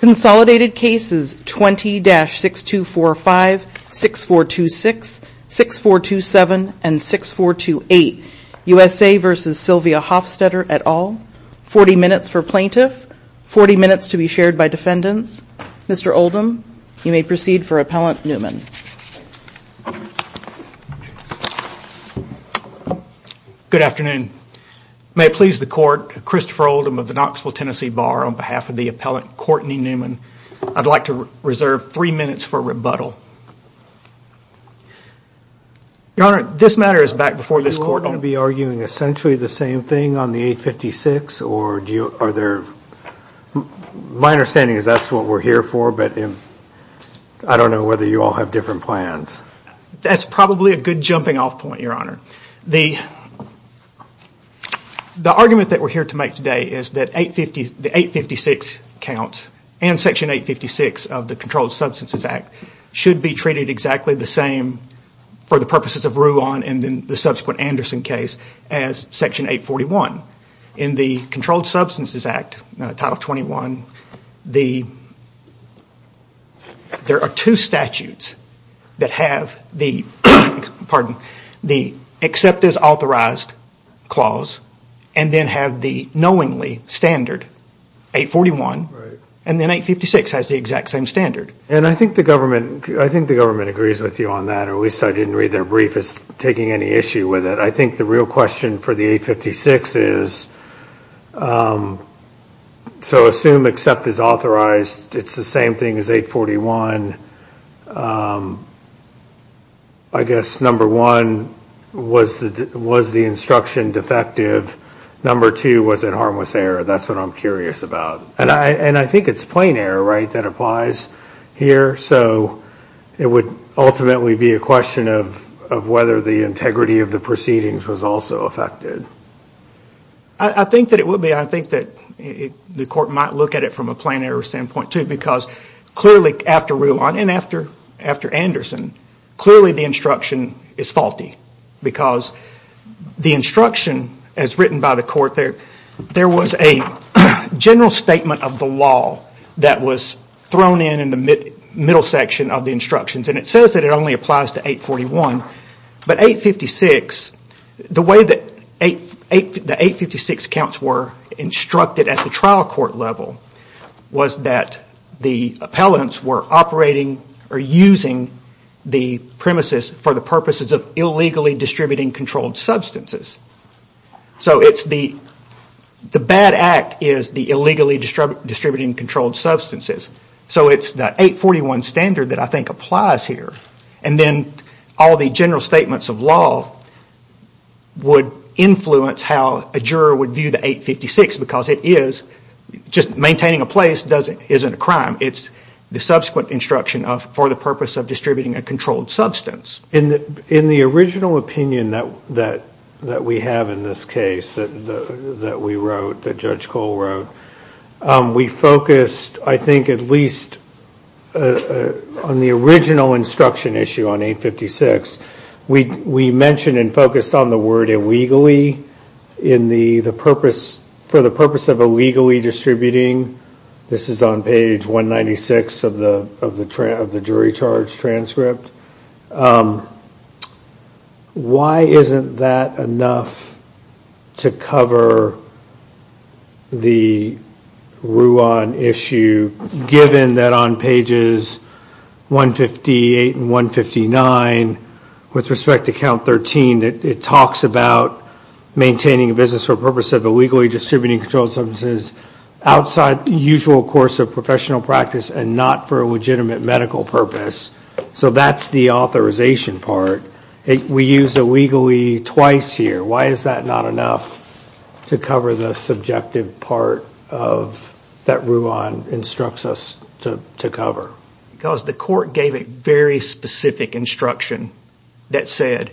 Consolidated cases 20-6245, 6426, 6427, and 6428, USA v. Sylvia Hofstetter et al. 40 minutes for plaintiff, 40 minutes to be shared by defendants. Mr. Oldham, you may proceed for Appellant Newman. Good afternoon. May it please the Court, Christopher Oldham of the Knoxville, Tennessee Bar on behalf of the Appellant Courtney Newman. I'd like to reserve three minutes for rebuttal. Your Honor, this matter is back before this Court. Are you going to be arguing essentially the same thing on the 856, or are there... My understanding is that's what we're here for, but I don't know whether you all have different plans. That's probably a good jumping off point, Your Honor. The argument that we're here to make today is that the 856 counts and Section 856 of the Controlled Substances Act should be treated exactly the same for the purposes of Ruan and the subsequent Anderson case as Section 841. In the Controlled Substances Act, Title 21, there are two statutes that have the accept as authorized clause and then have the knowingly standard, 841, and then 856 has the exact same standard. And I think the government agrees with you on that, or at least I didn't read their brief as taking any issue with it. But I think the real question for the 856 is, so assume accept as authorized, it's the same thing as 841. I guess number one, was the instruction defective? Number two, was it harmless error? That's what I'm curious about. And I think it's plain error, right, that applies here. So it would ultimately be a question of whether the integrity of the proceedings was also affected. I think that it would be. I think that the court might look at it from a plain error standpoint, too, because clearly after Ruan and after Anderson, clearly the instruction is faulty because the instruction as written by the court there, there was a general statement of the law that was thrown in in the middle section of the instructions, and it says that it only applies to 841. But 856, the way that the 856 counts were instructed at the trial court level was that the appellants were operating or using the premises for the purposes of illegally distributing controlled substances. So the bad act is the illegally distributing controlled substances. So it's that 841 standard that I think applies here. And then all the general statements of law would influence how a juror would view the 856 because it is just maintaining a place isn't a crime. It's the subsequent instruction for the purpose of distributing a controlled substance. In the original opinion that we have in this case that we wrote, that Judge Cole wrote, we focused, I think, at least on the original instruction issue on 856, we mentioned and focused on the word illegally for the purpose of illegally distributing. This is on page 196 of the jury charge transcript. Why isn't that enough to cover the Ruan issue, given that on pages 158 and 159, with respect to count 13, it talks about maintaining a business for the purpose of illegally distributing controlled substances outside the usual course of professional practice and not for a legitimate medical purpose. So that's the authorization part. We use illegally twice here. Why is that not enough to cover the subjective part that Ruan instructs us to cover? Because the court gave a very specific instruction that said,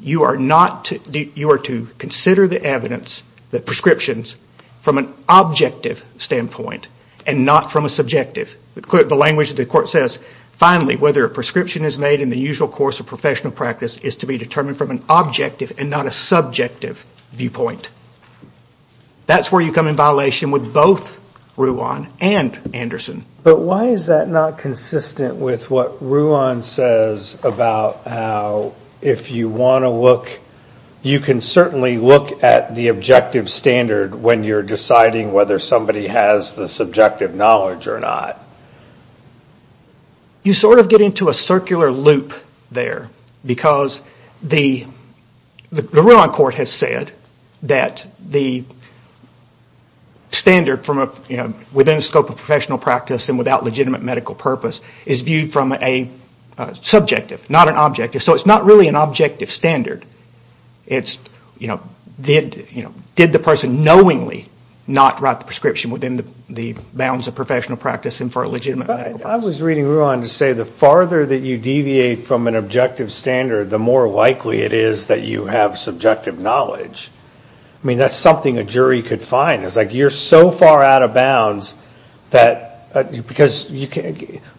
you are to consider the evidence, the prescriptions, from an objective standpoint and not from a subjective. The language of the court says, finally, whether a prescription is made in the usual course of professional practice is to be determined from an objective and not a subjective viewpoint. That's where you come in violation with both Ruan and Anderson. But why is that not consistent with what Ruan says about how if you want to look, you can certainly look at the objective standard when you're deciding whether somebody has the subjective knowledge or not. You sort of get into a circular loop there, because the Ruan court has said that the standard within the scope of professional practice and without legitimate medical purpose is viewed from a subjective, not an objective. So it's not really an objective standard. Did the person knowingly not write the prescription within the bounds of professional practice and for a legitimate medical purpose? I was reading Ruan to say the farther that you deviate from an objective standard, the more likely it is that you have subjective knowledge. I mean, that's something a jury could find. It's like you're so far out of bounds that, because,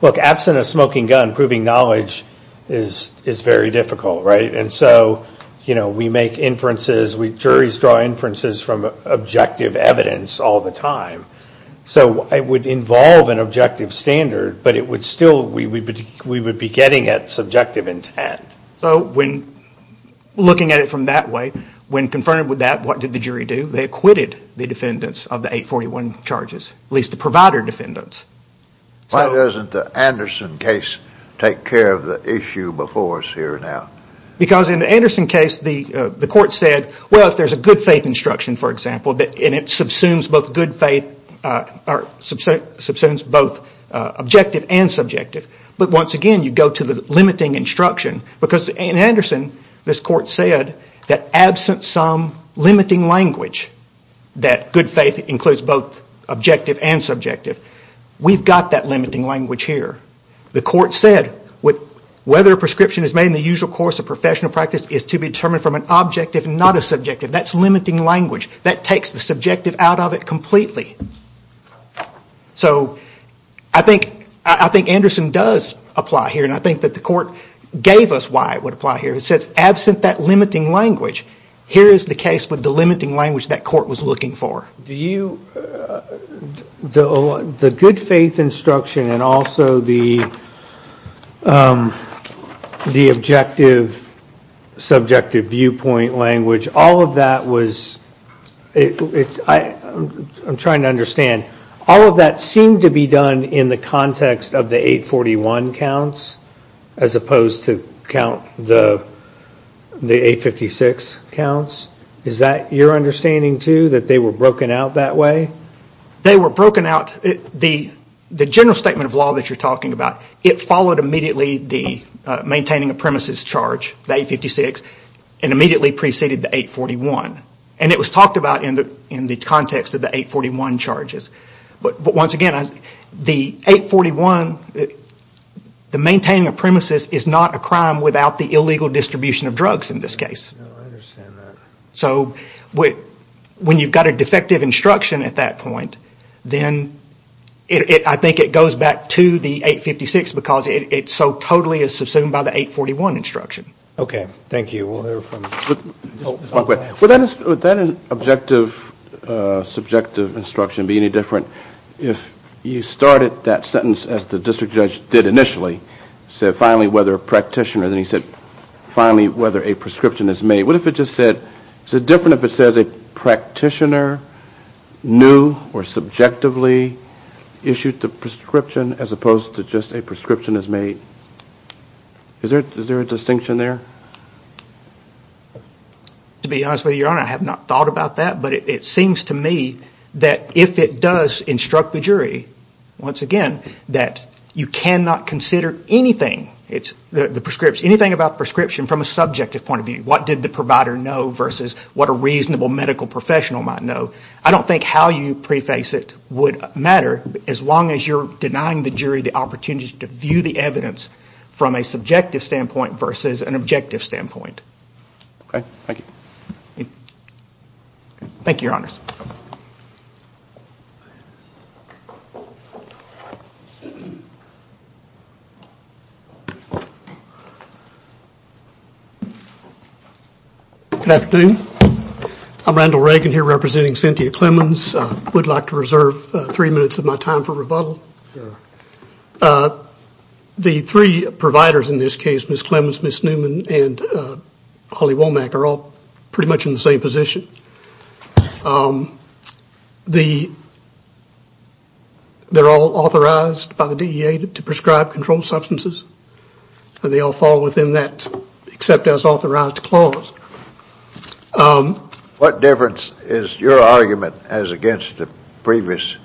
look, absent a smoking gun, proving knowledge is very difficult, right? And so, you know, we make inferences. Juries draw inferences from objective evidence all the time. So it would involve an objective standard, but it would still, we would be getting at subjective intent. So when looking at it from that way, when confirmed with that, what did the jury do? They acquitted the defendants of the 841 charges, at least the provider defendants. Why doesn't the Anderson case take care of the issue before us here now? Because in the Anderson case, the court said, well, if there's a good faith instruction, for example, and it subsumes both objective and subjective. But once again, you go to the limiting instruction, because in Anderson, this court said that absent some limiting language, that good faith includes both objective and subjective, we've got that limiting language here. The court said whether a prescription is made in the usual course of professional practice is to be determined from an objective and not a subjective. That's limiting language. That takes the subjective out of it completely. So I think Anderson does apply here, and I think that the court gave us why it would apply here. It says absent that limiting language, here is the case with the limiting language that court was looking for. The good faith instruction and also the objective, subjective viewpoint language, all of that was, I'm trying to understand, all of that seemed to be done in the context of the 841 counts as opposed to count the 856 counts. Is that your understanding, too, that they were broken out that way? They were broken out, the general statement of law that you're talking about, it followed immediately the maintaining a premises charge, the 856, and immediately preceded the 841. And it was talked about in the context of the 841 charges. But once again, the 841, the maintaining a premises is not a crime without the illegal distribution of drugs in this case. No, I understand that. So when you've got a defective instruction at that point, then I think it goes back to the 856 because it so totally is subsumed by the 841 instruction. Okay, thank you. Would that objective, subjective instruction be any different if you started that sentence as the district judge did initially, said finally whether a practitioner, then he said finally whether a prescription is made. What if it just said, is it different if it says a practitioner knew or subjectively issued the prescription as opposed to just a prescription is made? Is there a distinction there? To be honest with you, Your Honor, I have not thought about that, but it seems to me that if it does instruct the jury, once again, that you cannot consider anything about prescription from a subjective point of view. What did the provider know versus what a reasonable medical professional might know. I don't think how you preface it would matter as long as you're denying the jury the opportunity to view the evidence from a subjective standpoint versus an objective standpoint. Thank you, Your Honor. Good afternoon. I'm Randall Reagan here representing Cynthia Clemons. I would like to reserve three minutes of my time for rebuttal. The three providers in this case, Ms. Clemons, Ms. Newman, and Holly Womack, are all pretty much in the same position. They're all authorized, they're all certified, they're all authorized by the DEA to prescribe controlled substances, and they all fall within that except as authorized clause. What difference is your argument as against the previous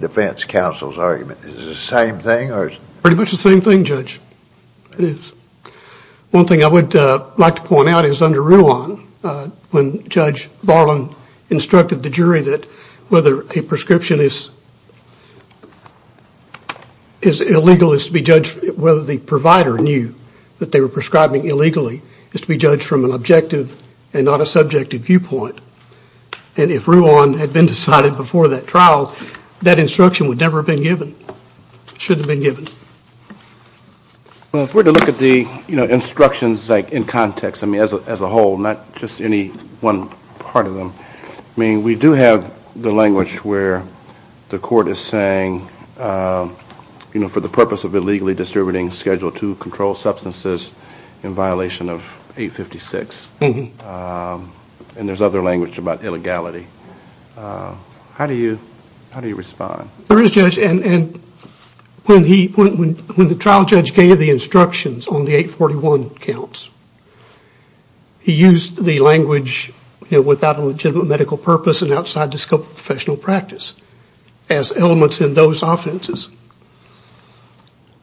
defense counsel's argument? Is it the same thing? Pretty much the same thing, Judge. One thing I would like to point out is under rule one, when Judge Barlon instructed the jury that whether a prescription is illegal is to be judged whether the provider knew that they were prescribing illegally, is to be judged from an objective and not a subjective viewpoint. And if rule one had been decided before that trial, that instruction would never have been given. It shouldn't have been given. If we were to look at the instructions in context, as a whole, not just any one part of them, we do have the language where the court is saying for the purpose of illegally distributing Schedule II controlled substances in violation of 856. And there's other language about illegality. How do you respond? When the trial judge gave the instructions on the 841 counts, he used the language without a legitimate medical purpose and outside the scope of professional practice as elements in those offenses.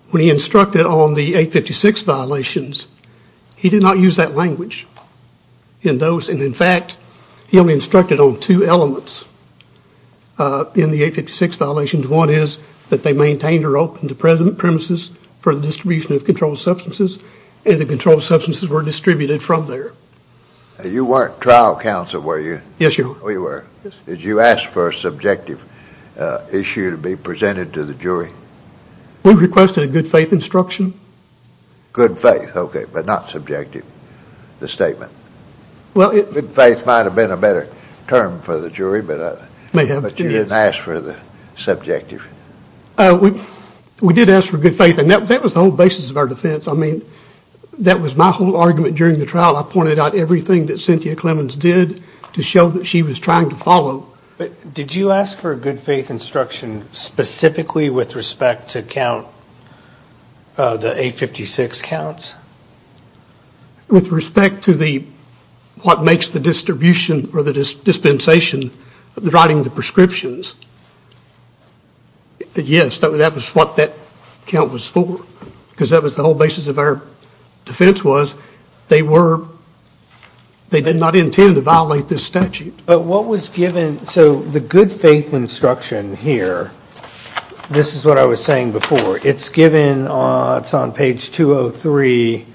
When he instructed on the 856 violations, he did not use that language in those. And, in fact, he only instructed on two elements in the 856 violations. One is that they maintained or opened the present premises for the distribution of controlled substances, and the controlled substances were distributed from there. You weren't trial counsel, were you? Yes, sir. Oh, you were. Did you ask for a subjective issue to be presented to the jury? We requested a good faith instruction. Good faith, okay, but not subjective, the statement. Good faith might have been a better term for the jury, but you didn't ask for the subjective. We did ask for good faith, and that was the whole basis of our defense. I mean, that was my whole argument during the trial. I pointed out everything that Cynthia Clemons did to show that she was trying to follow. Did you ask for a good faith instruction specifically with respect to count the 856 counts? With respect to what makes the distribution or the dispensation providing the prescriptions, yes, that was what that count was for, because that was the whole basis of our defense was they did not intend to violate this statute. But what was given, so the good faith instruction here, this is what I was saying before. It's given on page 203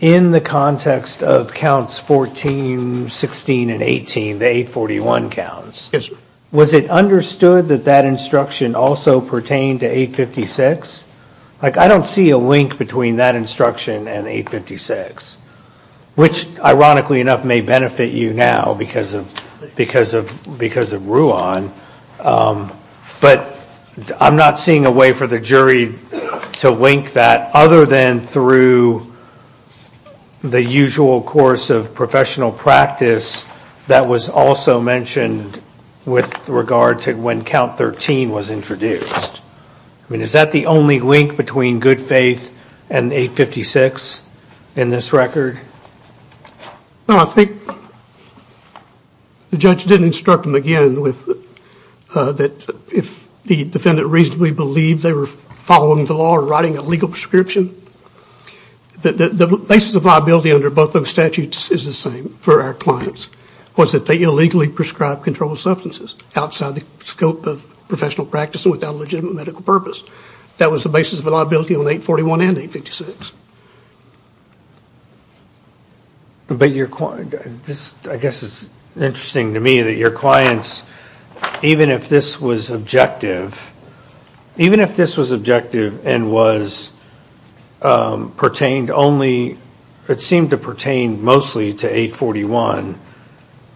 in the context of counts 14, 16, and 18, the 841 counts. Yes, sir. Was it understood that that instruction also pertained to 856? Like I don't see a link between that instruction and 856, which ironically enough may benefit you now because of Ruan, but I'm not seeing a way for the jury to link that other than through the usual course of professional practice that was also mentioned with regard to when count 13 was introduced. I mean, is that the only link between good faith and 856 in this record? Well, I think the judge didn't instruct them again that if the defendant reasonably believed they were following the law or writing a legal prescription, the basis of liability under both those statutes is the same for our clients, was that they illegally prescribed controlled substances outside the scope of professional practice without a legitimate medical purpose. That was the basis of liability on 841 and 856. But your client, I guess it's interesting to me that your clients, even if this was objective, even if this was objective and was pertained only, it seemed to pertain mostly to 841,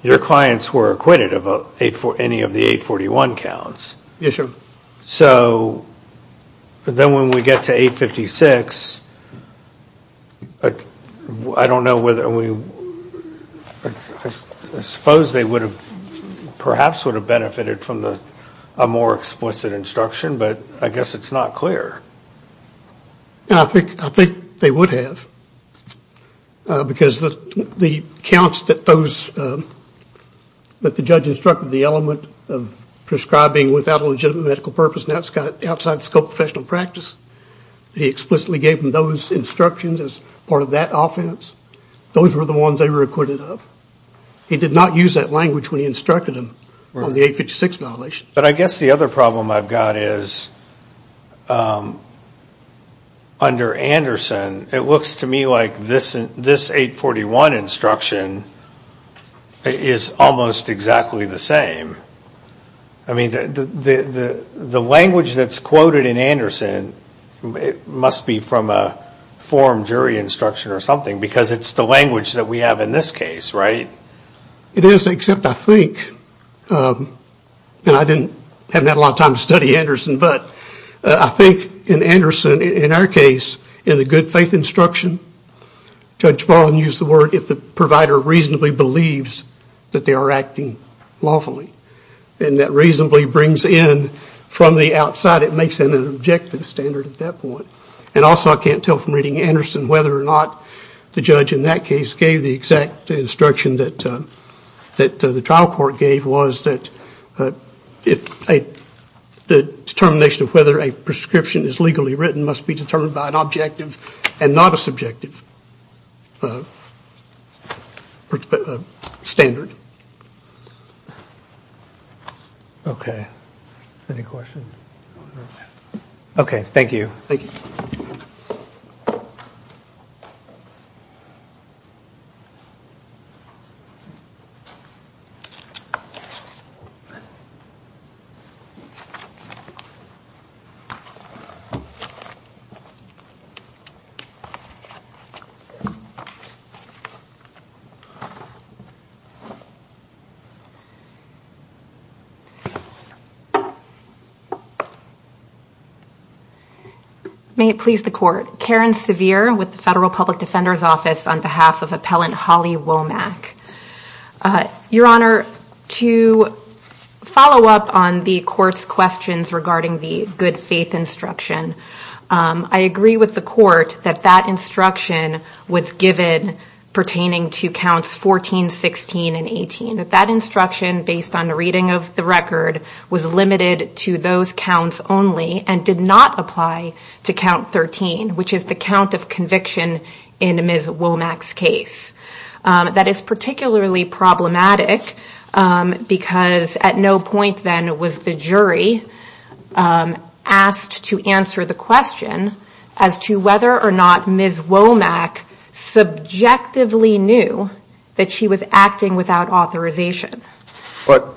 your clients were acquitted of any of the 841 counts. Yes, sir. So then when we get to 856, I don't know whether we, I suppose they would have, perhaps would have benefited from a more explicit instruction, but I guess it's not clear. I think they would have because the counts that those, that the judge instructed, the element of prescribing without a legitimate medical purpose outside the scope of professional practice, he explicitly gave them those instructions as part of that offense. Those were the ones they were acquitted of. He did not use that language when he instructed them on the 856 violation. But I guess the other problem I've got is under Anderson, it looks to me like this 841 instruction is almost exactly the same. I mean, the language that's quoted in Anderson must be from a forum jury instruction or something because it's the language that we have in this case, right? It is, except I think, and I didn't have a lot of time to study Anderson, but I think in Anderson, in our case, in the good faith instruction, Judge Baldwin used the word if the provider reasonably believes that they are acting lawfully. And that reasonably brings in from the outside, it makes it an objective standard at that point. And also I can't tell from reading Anderson whether or not the judge in that case gave the exact instruction that the trial court gave was that the determination of whether a prescription is legally written must be determined by an objective and not a subjective standard. Okay, any questions? Okay, thank you. Thank you. Thank you. May it please the court. Karen Sevier with the Federal Public Defender's Office on behalf of Appellant Holly Womack. Your Honor, to follow up on the court's questions regarding the good faith instruction, I agree with the court that that instruction was given pertaining to counts 14, 16, and 18. That instruction, based on the reading of the record, was limited to those counts only and did not apply to count 13, which is the count of conviction in Ms. Womack's case. That is particularly problematic because at no point then was the jury asked to answer the question as to whether or not Ms. Womack subjectively knew that she was acting without authorization. But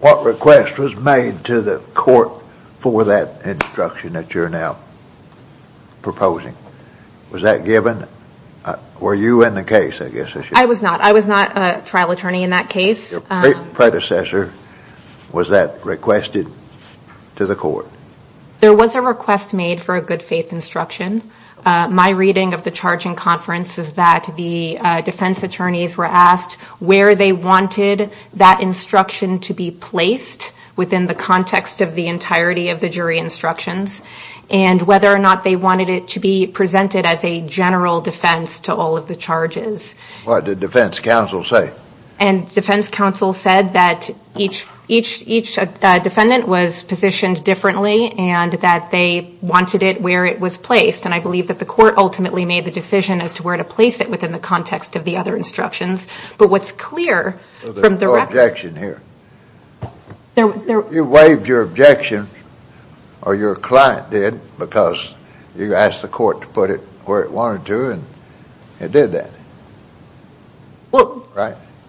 what request was made to the court for that instruction that you're now proposing? Was that given? Were you in the case, I guess I should say? I was not. I was not a trial attorney in that case. Your patent predecessor, was that requested to the court? There was a request made for a good faith instruction. My reading of the charging conference is that the defense attorneys were asked where they wanted that instruction to be placed within the context of the entirety of the jury instructions and whether or not they wanted it to be presented as a general defense to all of the charges. What did defense counsel say? Defense counsel said that each defendant was positioned differently and that they wanted it where it was placed. I believe that the court ultimately made the decision as to where to place it within the context of the other instructions. There's no objection here. You waived your objection or your client did because you asked the court to put it where it wanted to and it did that.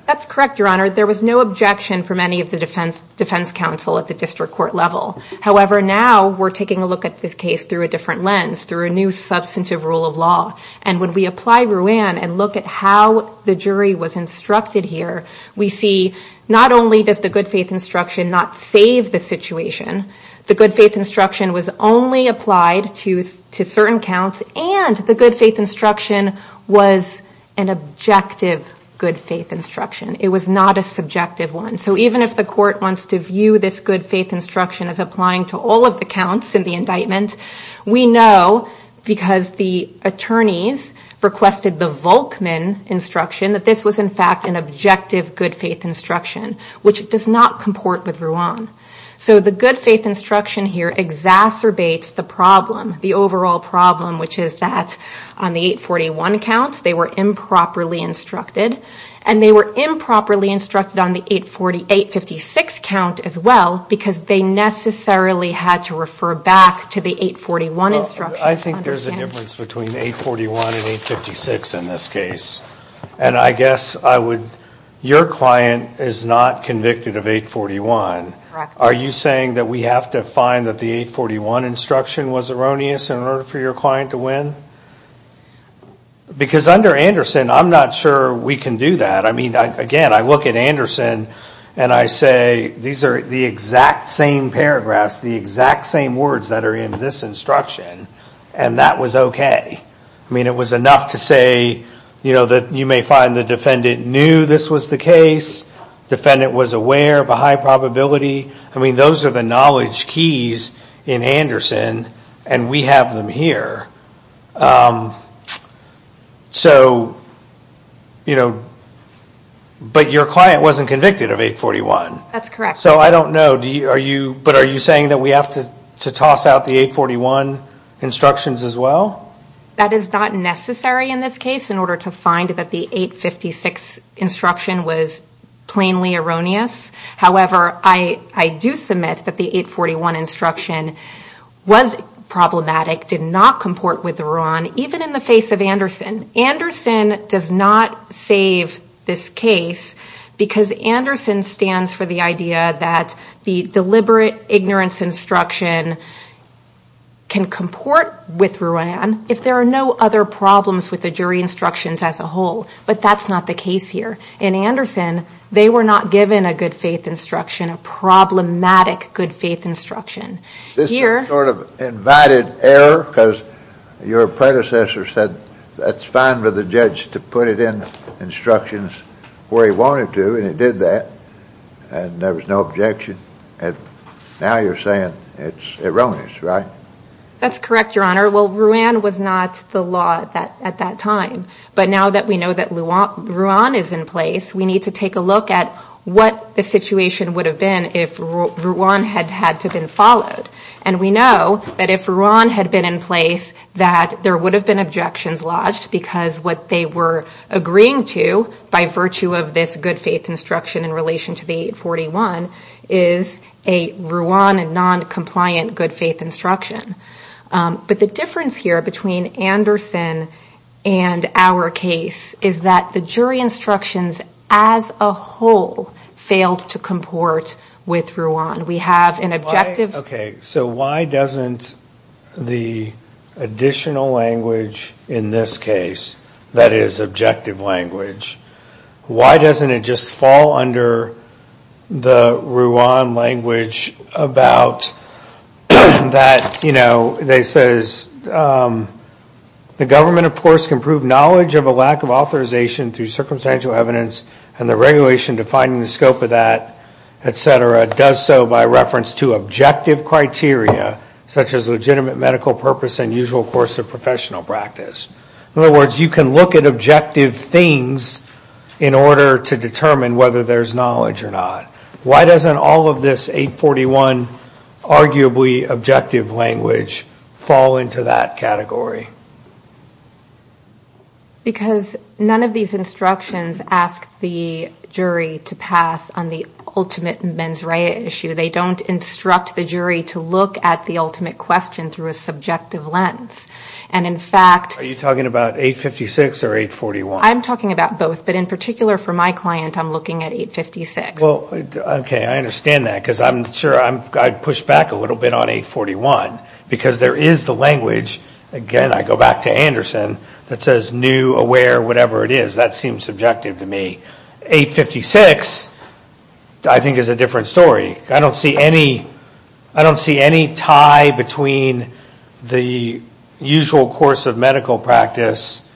That's correct, Your Honor. There was no objection from any of the defense counsel at the district court level. However, now we're taking a look at this case through a different lens, through a new substantive rule of law. When we apply RUAN and look at how the jury was instructed here, we see not only does the good faith instruction not save the situation, the good faith instruction was only applied to certain counts and the good faith instruction was an objective good faith instruction. It was not a subjective one. Even if the court wants to view this good faith instruction as applying to all of the counts in the indictment, we know because the attorneys requested the Volkman instruction, that this was in fact an objective good faith instruction, which does not comport with RUAN. The good faith instruction here exacerbates the problem, the overall problem, which is that on the 841 counts, they were improperly instructed and they were improperly instructed on the 848-56 count as well because they necessarily had to refer back to the 841 instruction. I think there's a difference between 841 and 856 in this case. And I guess your client is not convicted of 841. Are you saying that we have to find that the 841 instruction was erroneous in order for your client to win? Because under Anderson, I'm not sure we can do that. I mean, again, I look at Anderson and I say these are the exact same paragraphs, the exact same words that are in this instruction, and that was okay. I mean, it was enough to say, you know, that you may find the defendant knew this was the case, defendant was aware of a high probability. I mean, those are the knowledge keys in Anderson and we have them here. So, you know, but your client wasn't convicted of 841. That's correct. So I don't know, but are you saying that we have to toss out the 841 instructions as well? That is not necessary in this case in order to find that the 856 instruction was plainly erroneous. However, I do submit that the 841 instruction was problematic, did not comport with the RUAN, even in the face of Anderson. Anderson does not save this case because Anderson stands for the idea that the deliberate ignorance instruction can comport with RUAN if there are no other problems with the jury instructions as a whole, but that's not the case here. In Anderson, they were not given a good faith instruction, a problematic good faith instruction. This is sort of invited error because your predecessor said that's fine with the judge to put it in instructions the way he wanted to, and he did that, and there was no objection, and now you're saying it's erroneous, right? That's correct, Your Honor. Well, RUAN was not the law at that time, but now that we know that RUAN is in place, we need to take a look at what the situation would have been if RUAN had had to have been followed, and we know that if RUAN had been in place, that there would have been objections lodged because what they were agreeing to, by virtue of this good faith instruction in relation to the 841, is a RUAN and noncompliant good faith instruction. But the difference here between Anderson and our case is that the jury instructions as a whole failed to comport with RUAN. We have an objective... Okay, so why doesn't the additional language in this case, that is objective language, why doesn't it just fall under the RUAN language about that, you know, where it says the government, of course, can prove knowledge of a lack of authorization through circumstantial evidence and the regulation defining the scope of that, et cetera, does so by reference to objective criteria, such as legitimate medical purpose and usual course of professional practice. In other words, you can look at objective things in order to determine whether there's knowledge or not. Why doesn't all of this 841, arguably objective language, fall into that category? Because none of these instructions ask the jury to pass on the ultimate mens rea issue. They don't instruct the jury to look at the ultimate question through a subjective lens. And in fact... Are you talking about 856 or 841? I'm talking about both. But in particular for my client, I'm looking at 856. Well, okay, I understand that, because I'm sure I'd push back a little bit on 841, because there is the language, again, I go back to Anderson, that says new, aware, whatever it is. That seems subjective to me. 856, I think, is a different story. I don't see any tie between the usual course of medical practice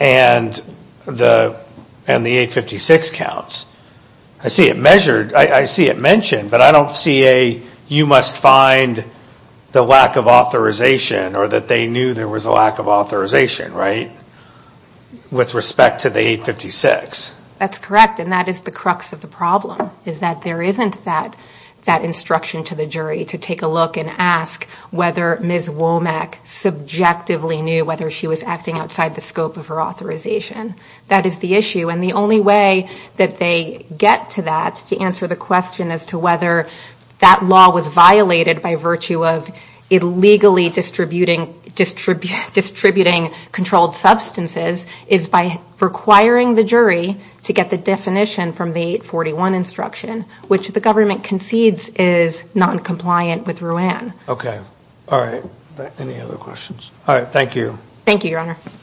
and the 856 counts. I see it measured, I see it mentioned, but I don't see a you must find the lack of authorization or that they knew there was a lack of authorization, right, with respect to the 856. That's correct, and that is the crux of the problem, is that there isn't that instruction to the jury to take a look and ask whether Ms. Womack subjectively knew whether she was acting outside the scope of her authorization. That is the issue. And the only way that they get to that to answer the question as to whether that law was violated by virtue of illegally distributing controlled substances is by requiring the jury to get the definition from the 841 instruction, which the government concedes is noncompliant with RUAN. Okay, all right. All right, thank you. Thank you, Your Honor. Thank you.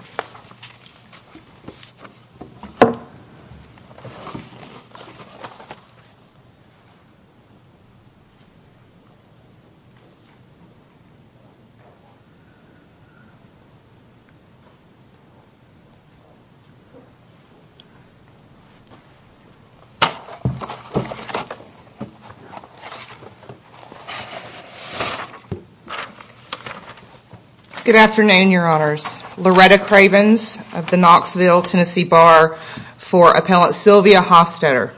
Good afternoon, Your Honors. Loretta Cravens of the Knoxville, Tennessee Bar for Appellant Sylvia Hofstadter.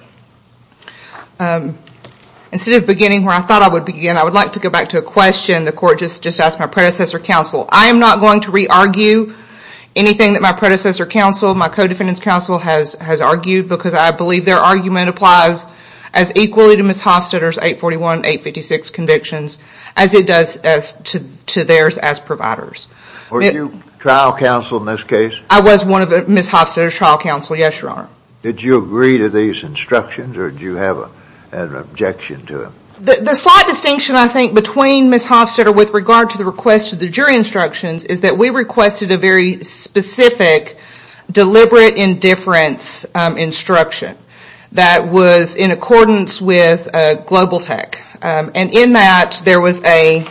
Instead of beginning where I thought I would begin, I would like to go back to a question the Court just asked my predecessor counsel. I am not going to re-argue anything that my predecessor counsel, my co-defendant's counsel has argued because I believe their argument applies as equally to Ms. Hofstadter's 841-856 convictions as it does to theirs as providers. Were you trial counsel in this case? I was one of Ms. Hofstadter's trial counsel, yes, Your Honor. Did you agree to these instructions or did you have an objection to them? The slight distinction, I think, between Ms. Hofstadter with regard to the request of the jury instructions is that we requested a very specific deliberate indifference instruction that was in accordance with Global Tech. And in that, there was a...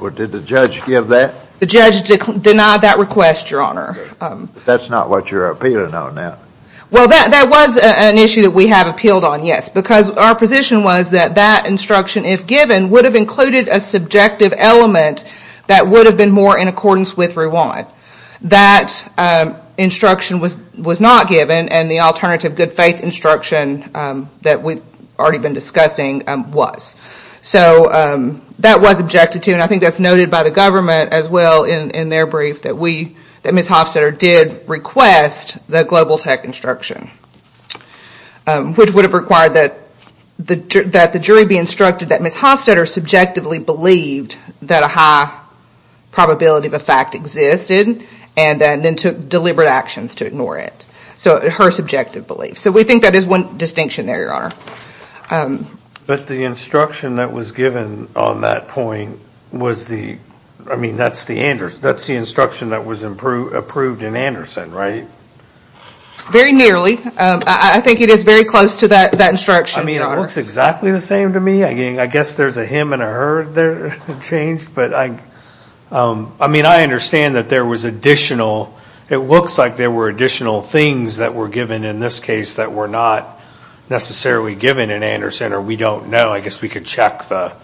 Or did the judge give that? The judge denied that request, Your Honor. That's not what you're appealing on now. Well, that was an issue we have appealed on, yes, because our position was that that instruction, if given, would have included a subjective element that would have been more in accordance with Rewind. That instruction was not given and the alternative good faith instruction that we've already been discussing was. So that was objected to and I think that's noted by the government as well in their brief that Ms. Hofstadter did request the Global Tech instruction, which would have required that the jury be instructed that Ms. Hofstadter subjectively believed that a high probability of a fact existed and then took deliberate actions to ignore it. So her subjective belief. So we think that is one distinction there, Your Honor. But the instruction that was given on that point was the... I mean, that's the instruction that was approved in Anderson, right? Very nearly. I think it is very close to that instruction, Your Honor. I mean, it looks exactly the same to me. I guess there's a him and a her there, James, but I... I mean, I understand that there was additional... things that were given in this case that were not necessarily given in Anderson or we don't know. I guess we could check the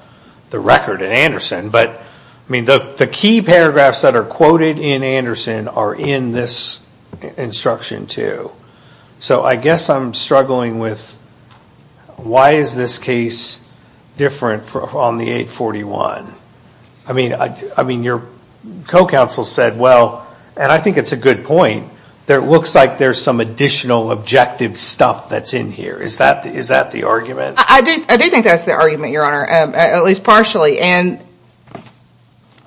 record in Anderson. But, I mean, the key paragraphs that are quoted in Anderson are in this instruction too. So I guess I'm struggling with why is this case different on the 841? I mean, your co-counsel said, well, and I think it's a good point, that it looks like there's some additional objective stuff that's in here. Is that the argument? I do think that's the argument, Your Honor, at least partially. And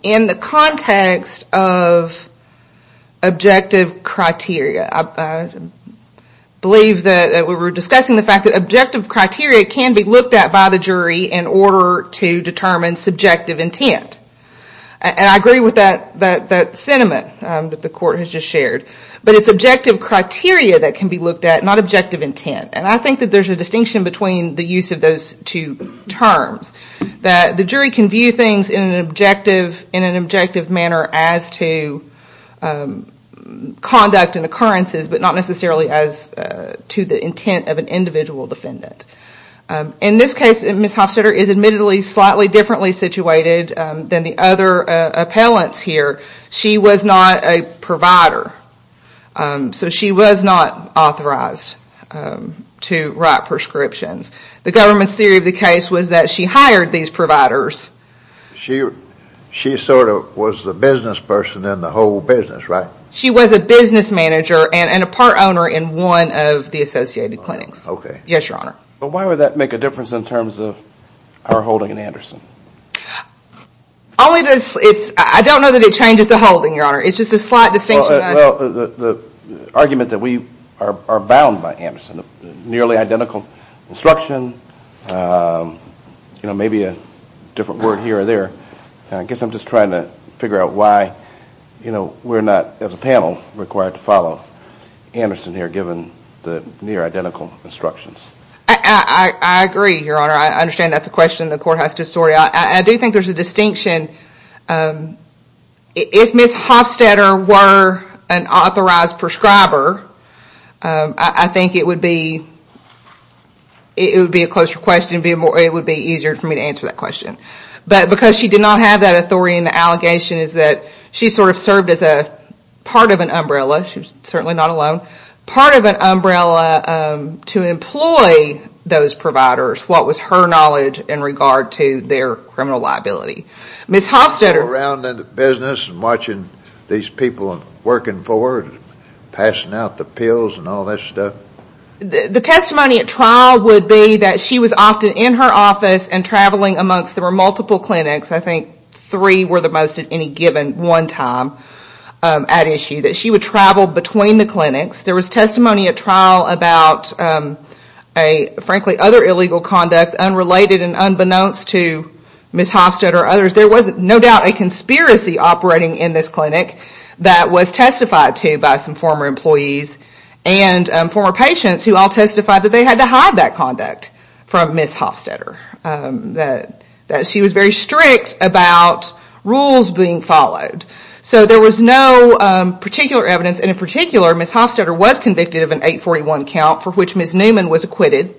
in the context of objective criteria, I believe that we were discussing the fact that objective criteria can be looked at by the jury in order to determine subjective intent. And I agree with that sentiment that the court has just shared. But it's objective criteria that can be looked at, not objective intent. And I think that there's a distinction between the use of those two terms, that the jury can view things in an objective manner as to conduct and occurrences, but not necessarily as to the intent of an individual defendant. In this case, Ms. Hofstetter is admittedly slightly differently situated than the other appellants here. She was not a provider, so she was not authorized to write prescriptions. The government's theory of the case was that she hired these providers. She sort of was the businessperson in the whole business, right? She was a business manager Okay. Yes, Your Honor. But why would that make a difference in terms of our holding in Anderson? I don't know that it changes the holding, Your Honor. It's just a slight distinction. The argument that we are bound by Anderson, nearly identical instruction, maybe a different word here or there. I guess I'm just trying to figure out why we're not, as a panel, required to follow Anderson here I agree, Your Honor. I understand that's a question of the poor hostess story. I do think there's a distinction. If Ms. Hofstetter were an authorized prescriber, I think it would be a closer question. It would be easier for me to answer that question. But because she did not have that authority in the allegation is that she sort of served as a part of an umbrella. She was certainly not alone. Part of an umbrella to employ those providers. What was her knowledge in regard to their criminal liability? Ms. Hofstetter Sitting around in the business and watching these people working for her and passing out the pills and all that stuff. The testimony at trial would be that she was often in her office and traveling amongst there were multiple clinics. I think three were the most at any given one time at issue. That she would travel between the clinics. There was testimony at trial about frankly other illegal conduct unrelated and unbeknownst to Ms. Hofstetter or others. There was no doubt a conspiracy operating in this clinic that was testified to by some former employees and former patients who all testified that they had to hide that conduct from Ms. Hofstetter. That she was very strict about rules being followed. There was no particular evidence and in particular Ms. Hofstetter was convicted of an 841 count for which Ms. Newman was acquitted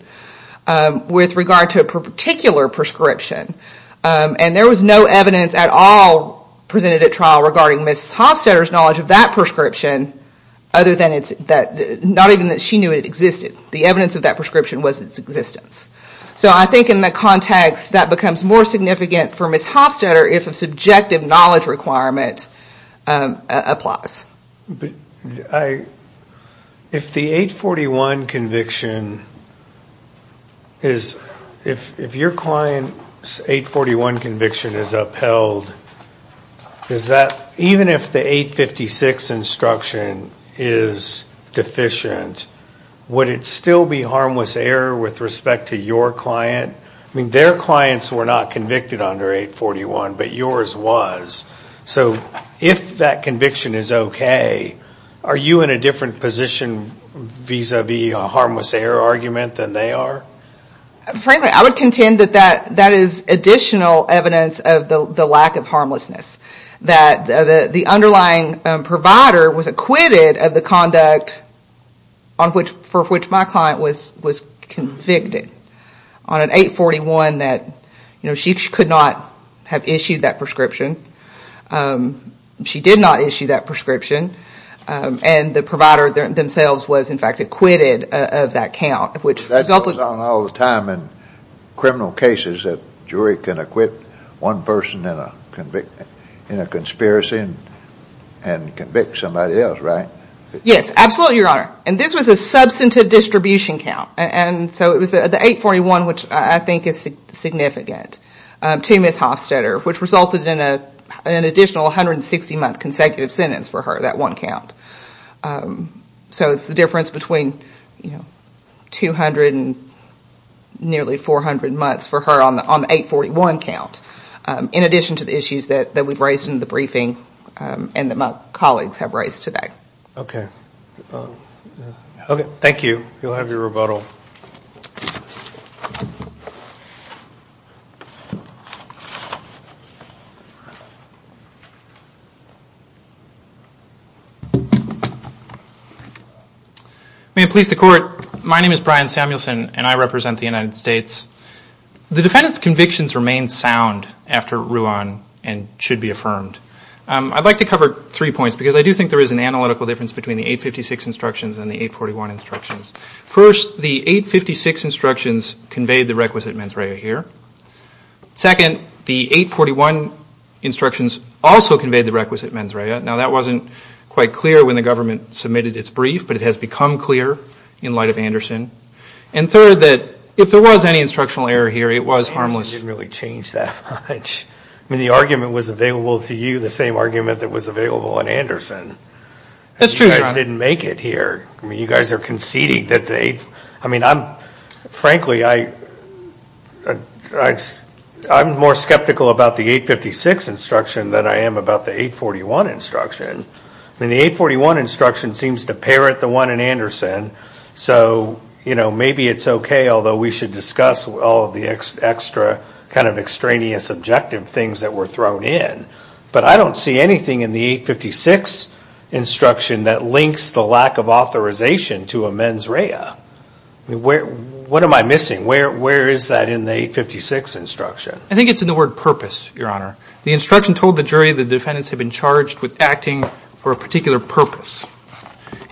with regard to a particular prescription. There was no evidence at all presented at trial regarding Ms. Hofstetter's knowledge of that prescription other than not even that she knew it existed. The evidence of that prescription was its existence. I think in the context that becomes more significant for Ms. Hofstetter, it's a subjective knowledge requirement applies. If the 841 conviction is... If your client's 841 conviction is upheld, is that even if the 856 instruction is deficient, would it still be harmless error with respect to your client? I mean, their clients were not convicted under 841, but yours was. So if that conviction is okay, are you in a different position vis-a-vis a harmless error argument than they are? Frankly, I would contend that that is additional evidence of the lack of harmlessness. That the underlying provider was acquitted of the conduct for which my client was convicted on an 841 that she could not have issued that prescription. She did not issue that prescription. And the provider themselves was in fact acquitted of that count. That goes on all the time in criminal cases that a jury can acquit one person in a conspiracy and convict somebody else, right? Yes, absolutely, Your Honor. And this was a substantive distribution count. And so the 841, which I think is significant, to Ms. Hofstadter, which resulted in an additional 160-month consecutive sentence for her, that one count. So it's the difference between 200 and nearly 400 months for her on the 841 count, in addition to the issues that we've raised in the briefing and that my colleagues have raised today. Okay. Okay, thank you. You'll have your rebuttal. May it please the Court, my name is Brian Samuelson and I represent the United States. The defendant's convictions remain sound after Ruan and should be affirmed. I'd like to cover three points because I do think there is an analytical difference between the 856 instructions and the 841 instructions. First, the 856 instructions conveyed the requisite mens rea here. Second, the 841 instructions also conveyed the requisite mens rea. Now, that wasn't quite clear when the government submitted its brief, but it has become clear in light of Anderson. And third, that if there was any instructional error here, it was harmless. It didn't really change that much. I mean, the argument was available to you, the same argument that was available in Anderson. That's true, John. You guys didn't make it here. I mean, you guys are conceding that they – I mean, I'm – frankly, I'm more skeptical about the 856 instruction than I am about the 841 instruction. And the 841 instruction seems to parrot the one in Anderson, so, you know, maybe it's okay, although we should discuss all of the extra kind of extraneous objective things that were thrown in. But I don't see anything in the 856 instruction that links the lack of authorization to a mens rea. What am I missing? Where is that in the 856 instruction? I think it's in the word purpose, Your Honor. The instruction told the jury the defendants had been charged with acting for a particular purpose,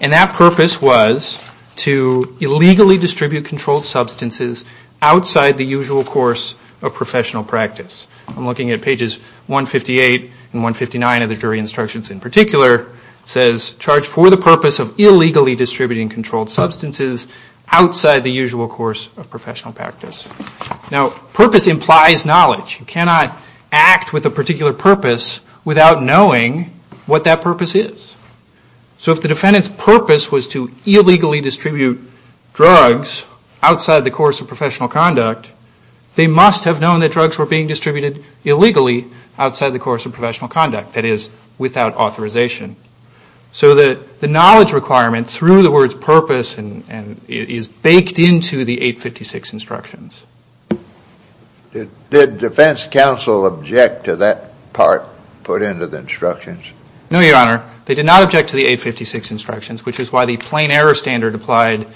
and that purpose was to illegally distribute controlled substances outside the usual course of professional practice. I'm looking at pages 158 and 159 of the jury instructions in particular. It says, charged for the purpose of illegally distributing controlled substances outside the usual course of professional practice. Now, purpose implies knowledge. You cannot act with a particular purpose without knowing what that purpose is. So if the defendant's purpose was to illegally distribute drugs outside the course of professional conduct, they must have known that drugs were being distributed illegally outside the course of professional conduct, that is, without authorization. So the knowledge requirement through the word purpose is baked into the 856 instructions. Did defense counsel object to that part put into the instructions? No, Your Honor. They did not object to the 856 instructions, which is why the plain error standard applied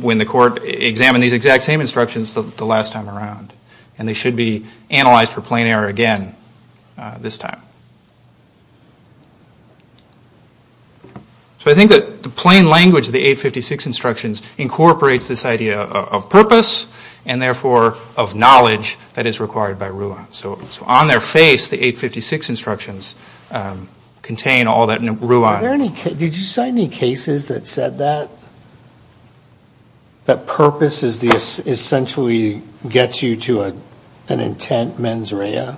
when the court examined these exact same instructions the last time around, and they should be analyzed for plain error again this time. So I think that the plain language of the 856 instructions incorporates this idea of purpose and therefore of knowledge that is required by RUAN. So on their face, the 856 instructions contain all that RUAN. Did you cite any cases that said that purpose essentially gets you to an intent mens rea?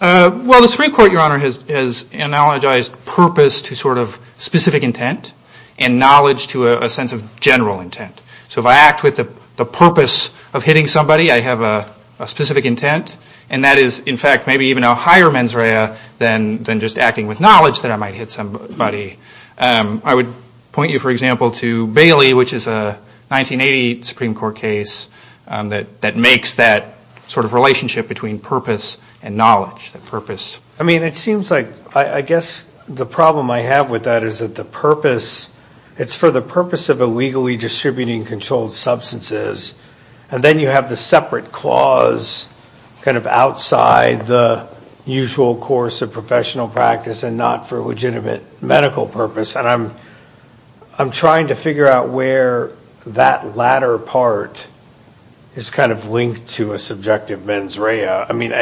Well, the Supreme Court, Your Honor, has analogized purpose to sort of specific intent and knowledge to a sense of general intent. So if I act with the purpose of hitting somebody, I have a specific intent, and that is, in fact, maybe even a higher mens rea than just acting with knowledge that I might hit somebody. I would point you, for example, to Bailey, which is a 1980 Supreme Court case that makes that sort of relationship between purpose and knowledge, the purpose. I mean, it seems like, I guess, the problem I have with that is that the purpose, it's for the purpose of illegally distributing controlled substances, and then you have the separate clause kind of outside the usual course of professional practice and not for legitimate medical purpose. And I'm trying to figure out where that latter part is kind of linked to a subjective mens rea. I mean,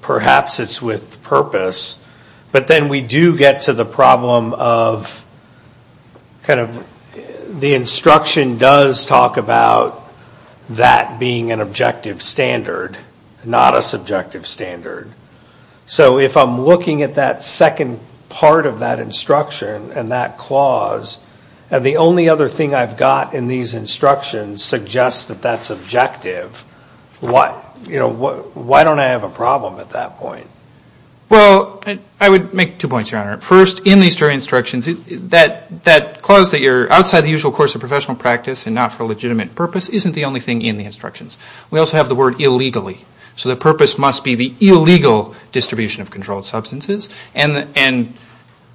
perhaps it's with purpose, but then we do get to the problem of kind of the instruction does talk about that being an objective standard, not a subjective standard. So if I'm looking at that second part of that instruction and that clause and the only other thing I've got in these instructions suggests that that's objective, why don't I have a problem at that point? Well, I would make two points, Your Honor. First, in these three instructions, that clause that you're outside the usual course of professional practice and not for legitimate purpose isn't the only thing in the instructions. We also have the word illegally. So the purpose must be the illegal distribution of controlled substances, and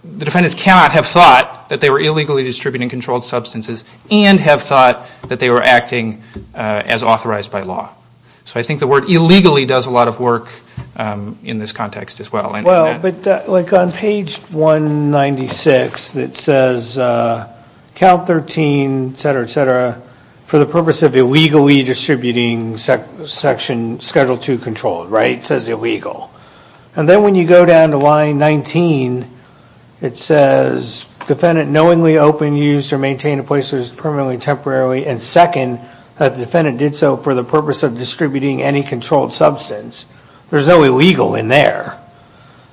the defendants cannot have thought that they were illegally distributing controlled substances and have thought that they were acting as authorized by law. So I think the word illegally does a lot of work in this context as well. Well, but like on page 196, it says, Cal 13, et cetera, et cetera, for the purpose of illegally distributing Section Schedule 2 controlled, right? It says illegal. And then when you go down to line 19, it says, defendant knowingly opened, used, or maintained a place that was permanently, temporarily, and second, that the defendant did so for the purpose of distributing any controlled substance. There's no illegal in there.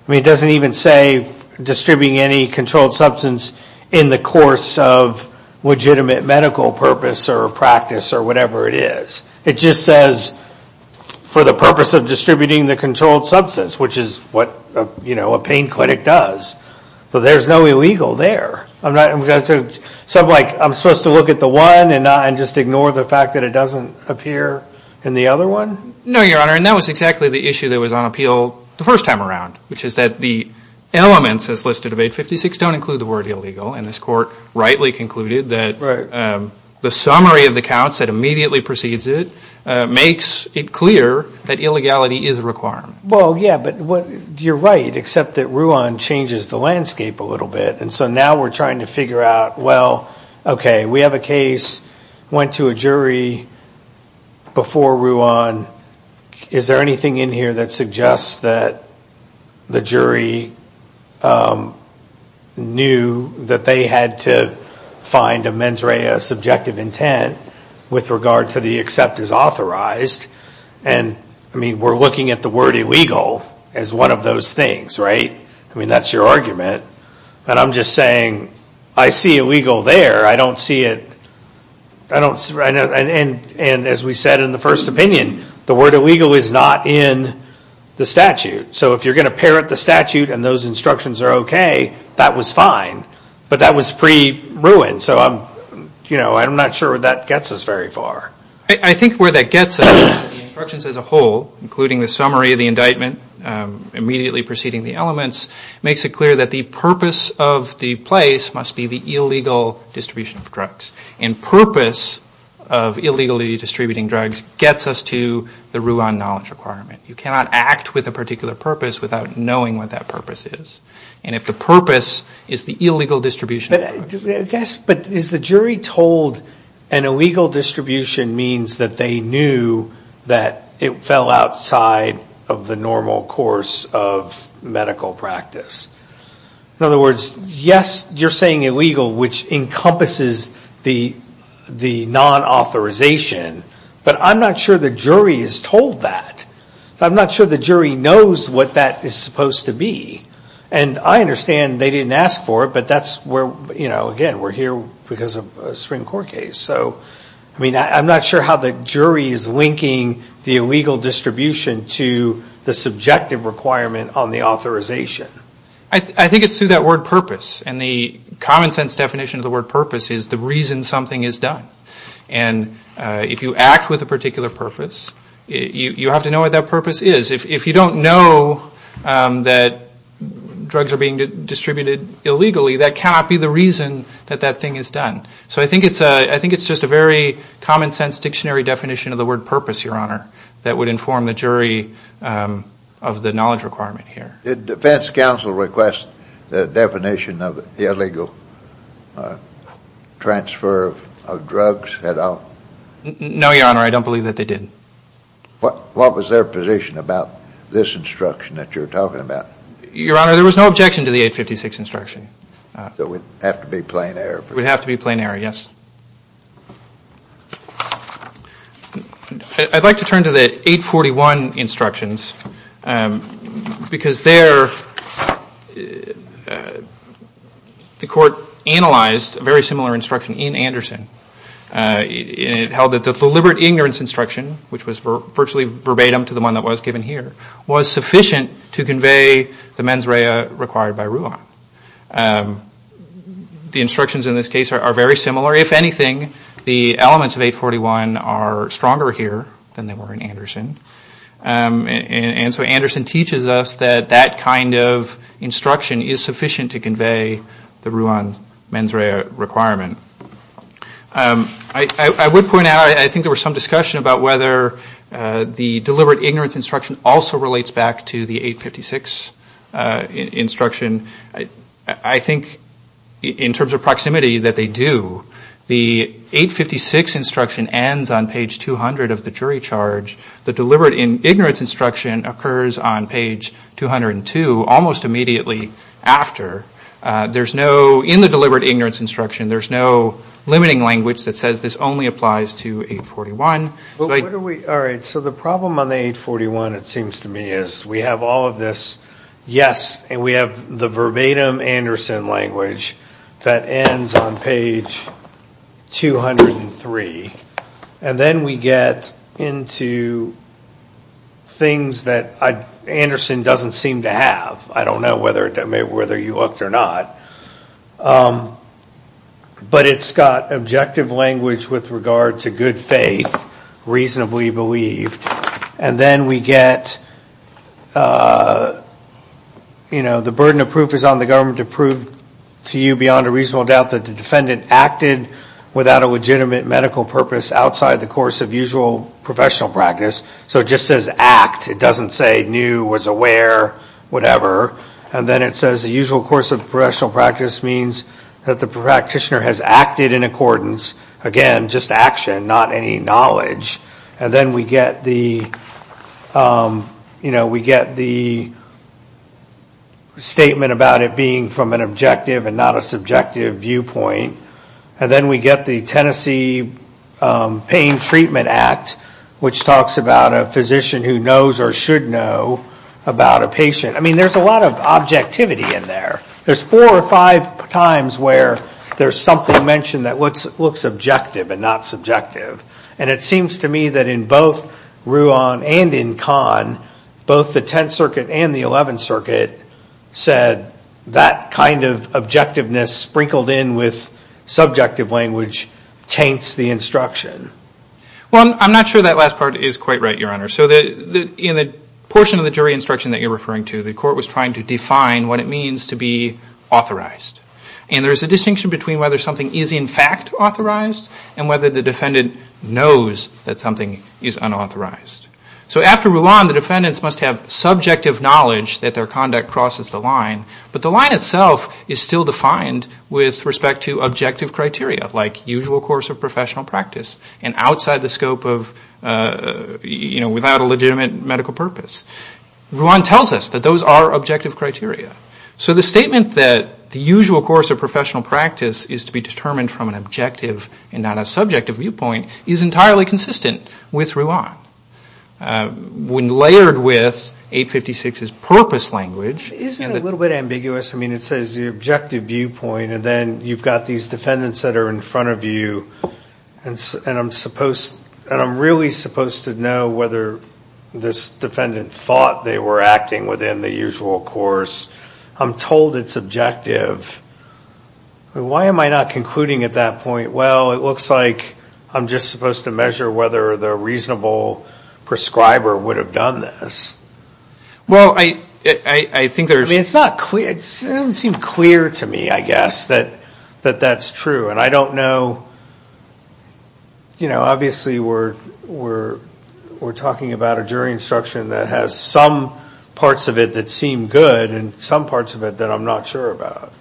I mean, it doesn't even say distributing any controlled substance in the course of legitimate medical purpose or practice or whatever it is. It just says for the purpose of distributing the controlled substance, which is what a pain clinic does. So there's no illegal there. I'm supposed to look at the one and just ignore the fact that it doesn't appear in the other one? No, Your Honor, and that was exactly the issue that was on appeal the first time around, which is that the elements as listed on page 56 don't include the word illegal, and this court rightly concluded that the summary of the counts that immediately precedes it makes it clear that illegality is required. Well, yeah, but you're right, except that Ruan changes the landscape a little bit, and so now we're trying to figure out, well, okay, we have a case, went to a jury before Ruan. Is there anything in here that suggests that the jury knew that they had to find a mens rea, a subjective intent, with regard to the accept as authorized? And, I mean, we're looking at the word illegal as one of those things, right? I mean, that's your argument. But I'm just saying I see illegal there. I don't see it, and as we said in the first opinion, the word illegal is not in the statute. So if you're going to parrot the statute and those instructions are okay, that was fine, but that was pre-Ruan, so I'm not sure that gets us very far. I think where that gets us is that the instructions as a whole, including the summary of the indictment immediately preceding the elements, makes it clear that the purpose of the place must be the illegal distribution of drugs. And purpose of illegally distributing drugs gets us to the Ruan knowledge requirement. You cannot act with a particular purpose without knowing what that purpose is. And if the purpose is the illegal distribution of drugs... Yes, but is the jury told an illegal distribution means that they knew that it fell outside of the normal course of medical practice? In other words, yes, you're saying illegal, which encompasses the non-authorization, but I'm not sure the jury is told that. I'm not sure the jury knows what that is supposed to be. And I understand they didn't ask for it, but that's where, you know, again, we're here because of a Supreme Court case. So, I mean, I'm not sure how the jury is linking the illegal distribution to the subjective requirement on the authorization. I think it's through that word purpose. And the common-sense definition of the word purpose is the reason something is done. And if you act with a particular purpose, you have to know what that purpose is. If you don't know that drugs are being distributed illegally, that cannot be the reason that that thing is done. So I think it's just a very common-sense dictionary definition of the word purpose, Your Honor, that would inform the jury of the knowledge requirement here. Did defense counsel request the definition of illegal transfer of drugs at all? No, Your Honor, I don't believe that they did. What was their position about this instruction that you're talking about? Your Honor, there was no objection to the 856 instruction. So it would have to be plain error. It would have to be plain error, yes. I'd like to turn to the 841 instructions because there the court analyzed a very similar instruction in Anderson. It held that the deliberate ignorance instruction, which was virtually verbatim to the one that was given here, was sufficient to convey the mens rea required by rule law. The instructions in this case are very similar. If anything, the elements of 841 are stronger here than they were in Anderson. And so Anderson teaches us that that kind of instruction is sufficient to convey the rule on mens rea requirement. I would point out, I think there was some discussion about whether the deliberate ignorance instruction also relates back to the 856 instruction. I think in terms of proximity that they do. The 856 instruction ends on page 200 of the jury charge. The deliberate ignorance instruction occurs on page 202 almost immediately after. In the deliberate ignorance instruction, there's no limiting language that says this only applies to 841. So the problem on the 841, it seems to me, is we have all of this, yes, and we have the verbatim Anderson language that ends on page 203. And then we get into things that Anderson doesn't seem to have. I don't know whether you looked or not. But it's got objective language with regard to good faith, reasonably believed. And then we get, you know, the burden of proof is on the government to prove to you beyond a reasonable doubt that the defendant acted without a legitimate medical purpose outside the course of usual professional practice. So it just says act. It doesn't say knew, was aware, whatever. And then it says the usual course of professional practice means that the practitioner has acted in accordance. Again, just action, not any knowledge. And then we get the, you know, we get the statement about it being from an objective and not a subjective viewpoint. And then we get the Tennessee Pain Treatment Act, which talks about a physician who knows or should know about a patient. I mean, there's a lot of objectivity in there. There's four or five times where there's something mentioned that looks objective and not subjective. And it seems to me that in both Ruan and in Kahn, both the Tenth Circuit and the Eleventh Circuit said that kind of objectiveness sprinkled in with subjective language taints the instruction. Well, I'm not sure that last part is quite right, Your Honor. So in the portion of the jury instruction that you're referring to, the court was trying to define what it means to be authorized. And there's a distinction between whether something is in fact authorized and whether the defendant knows that something is unauthorized. So after Ruan, the defendants must have subjective knowledge that their conduct crosses the line. But the line itself is still defined with respect to objective criteria, like usual course of professional practice and outside the scope of, you know, without a legitimate medical purpose. Ruan tells us that those are objective criteria. So the statement that the usual course of professional practice is to be determined from an objective and not a subjective viewpoint is entirely consistent with Ruan. When layered with 856's purpose language... Isn't it a little bit ambiguous? I mean, it says the objective viewpoint, and then you've got these defendants that are in front of you. And I'm supposed... And I'm really supposed to know whether this defendant thought they were acting within the usual course. I'm told it's objective. Why am I not concluding at that point, well, it looks like I'm just supposed to measure whether the reasonable prescriber would have done this. Well, I think there's... I mean, it's not clear. It doesn't seem clear to me, I guess, that that's true. And I don't know... You know, obviously, we're talking about a jury instruction that has some parts of it that seem good and some parts of it that I'm not sure about.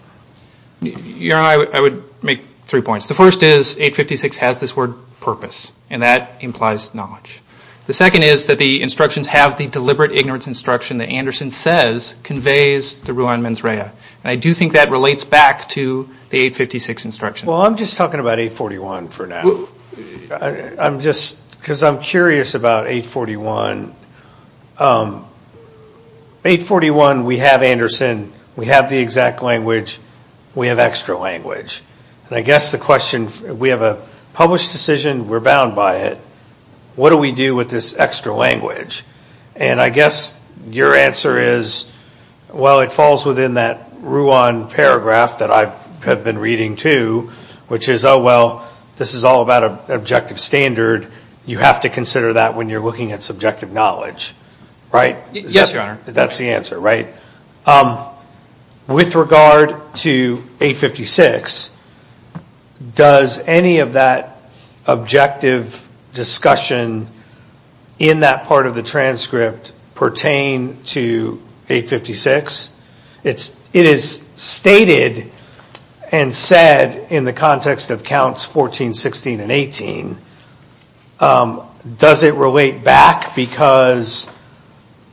Your Honor, I would make three points. The first is 856 has this word purpose, and that implies knowledge. The second is that the instructions have the deliberate ignorance instruction that Anderson says conveys to Ruan Menzraya. And I do think that relates back to the 856 instruction. Well, I'm just talking about 841 for now. I'm just... Because I'm curious about 841. 841, we have Anderson. We have the exact language. We have extra language. And I guess the question... We have a published decision. We're bound by it. What do we do with this extra language? And I guess your answer is, well, it falls within that Ruan paragraph that I have been reading, too, which is, oh, well, this is all about an objective standard. You have to consider that when you're looking at subjective knowledge, right? Yes, Your Honor. That's the answer, right? With regard to 856, does any of that objective discussion in that part of the transcript pertain to 856? It is stated and said in the context of counts 14, 16, and 18. Does it relate back because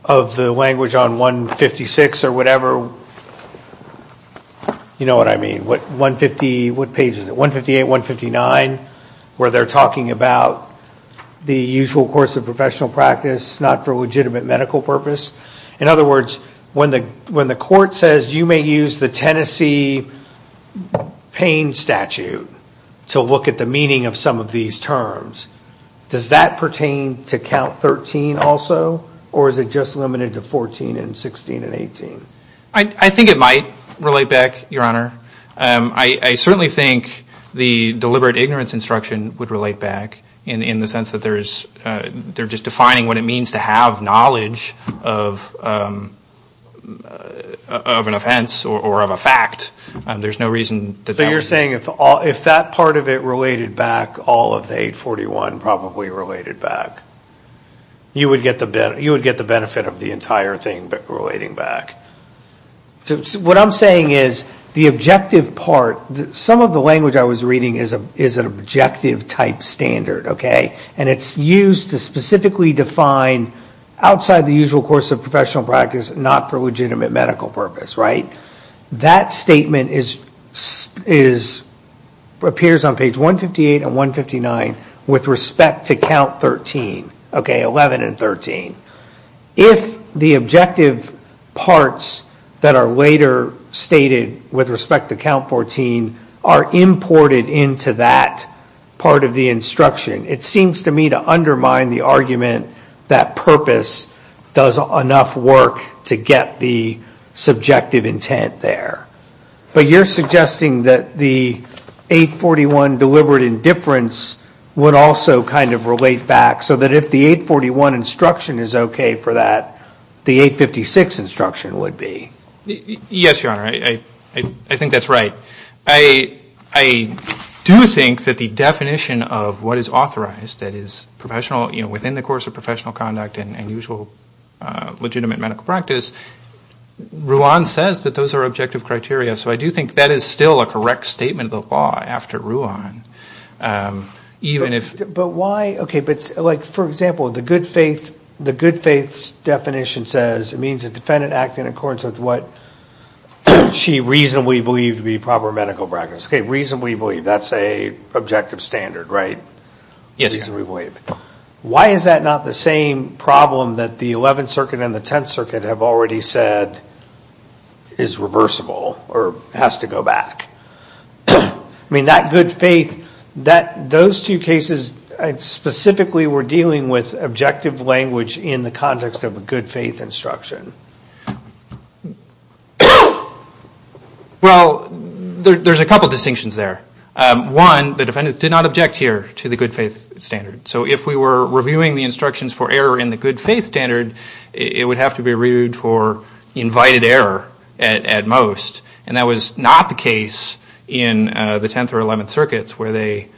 of the language on 156 or whatever? You know what I mean. What page is it? 158, 159, where they're talking about the usual course of professional practice, not for legitimate medical purpose. In other words, when the court says, you may use the Tennessee pain statute to look at the meaning of some of these terms, does that pertain to count 13 also, or is it just limited to 14 and 16 and 18? I think it might relate back, Your Honor. I certainly think the deliberate ignorance instruction would relate back in the sense that they're just defining what it means to have knowledge of an offense or of a fact. There's no reason that that... So you're saying if that part of it related back, all of 841 probably related back, you would get the benefit of the entire thing relating back. What I'm saying is the objective part, some of the language I was reading is an objective-type standard, okay? And it's used to specifically define outside the usual course of professional practice, not for legitimate medical purpose, right? That statement appears on page 158 and 159 with respect to count 13, okay, 11 and 13. If the objective parts that are later stated with respect to count 14 are imported into that part of the instruction, it seems to me to undermine the argument that purpose does enough work to get the subjective intent there. But you're suggesting that the 841 deliberate indifference would also kind of relate back so that if the 841 instruction is okay for that, the 856 instruction would be. Yes, Your Honor, I think that's right. I do think that the definition of what is authorized, that is professional, you know, within the course of professional conduct and usual legitimate medical practice, Ruan says that those are objective criteria, so I do think that is still a correct statement of the law after Ruan, even if... But why, okay, but like, for example, the good faith definition says it means a defendant acting in accordance with what she reasonably believes to be proper medical practice. Okay, reasonably believe, that's an objective standard, right? Yes, Your Honor. Why is that not the same problem that the 11th Circuit and the 10th Circuit have already said is reversible or has to go back? I mean, that good faith, those two cases, specifically we're dealing with objective language in the context of a good faith instruction. Well, there's a couple of distinctions there. One, the defendant did not object here to the good faith standard. So if we were reviewing the instructions for error in the good faith standard, it would have to be reviewed for invited error at most, and that was not the case in the 10th or 11th Circuits where they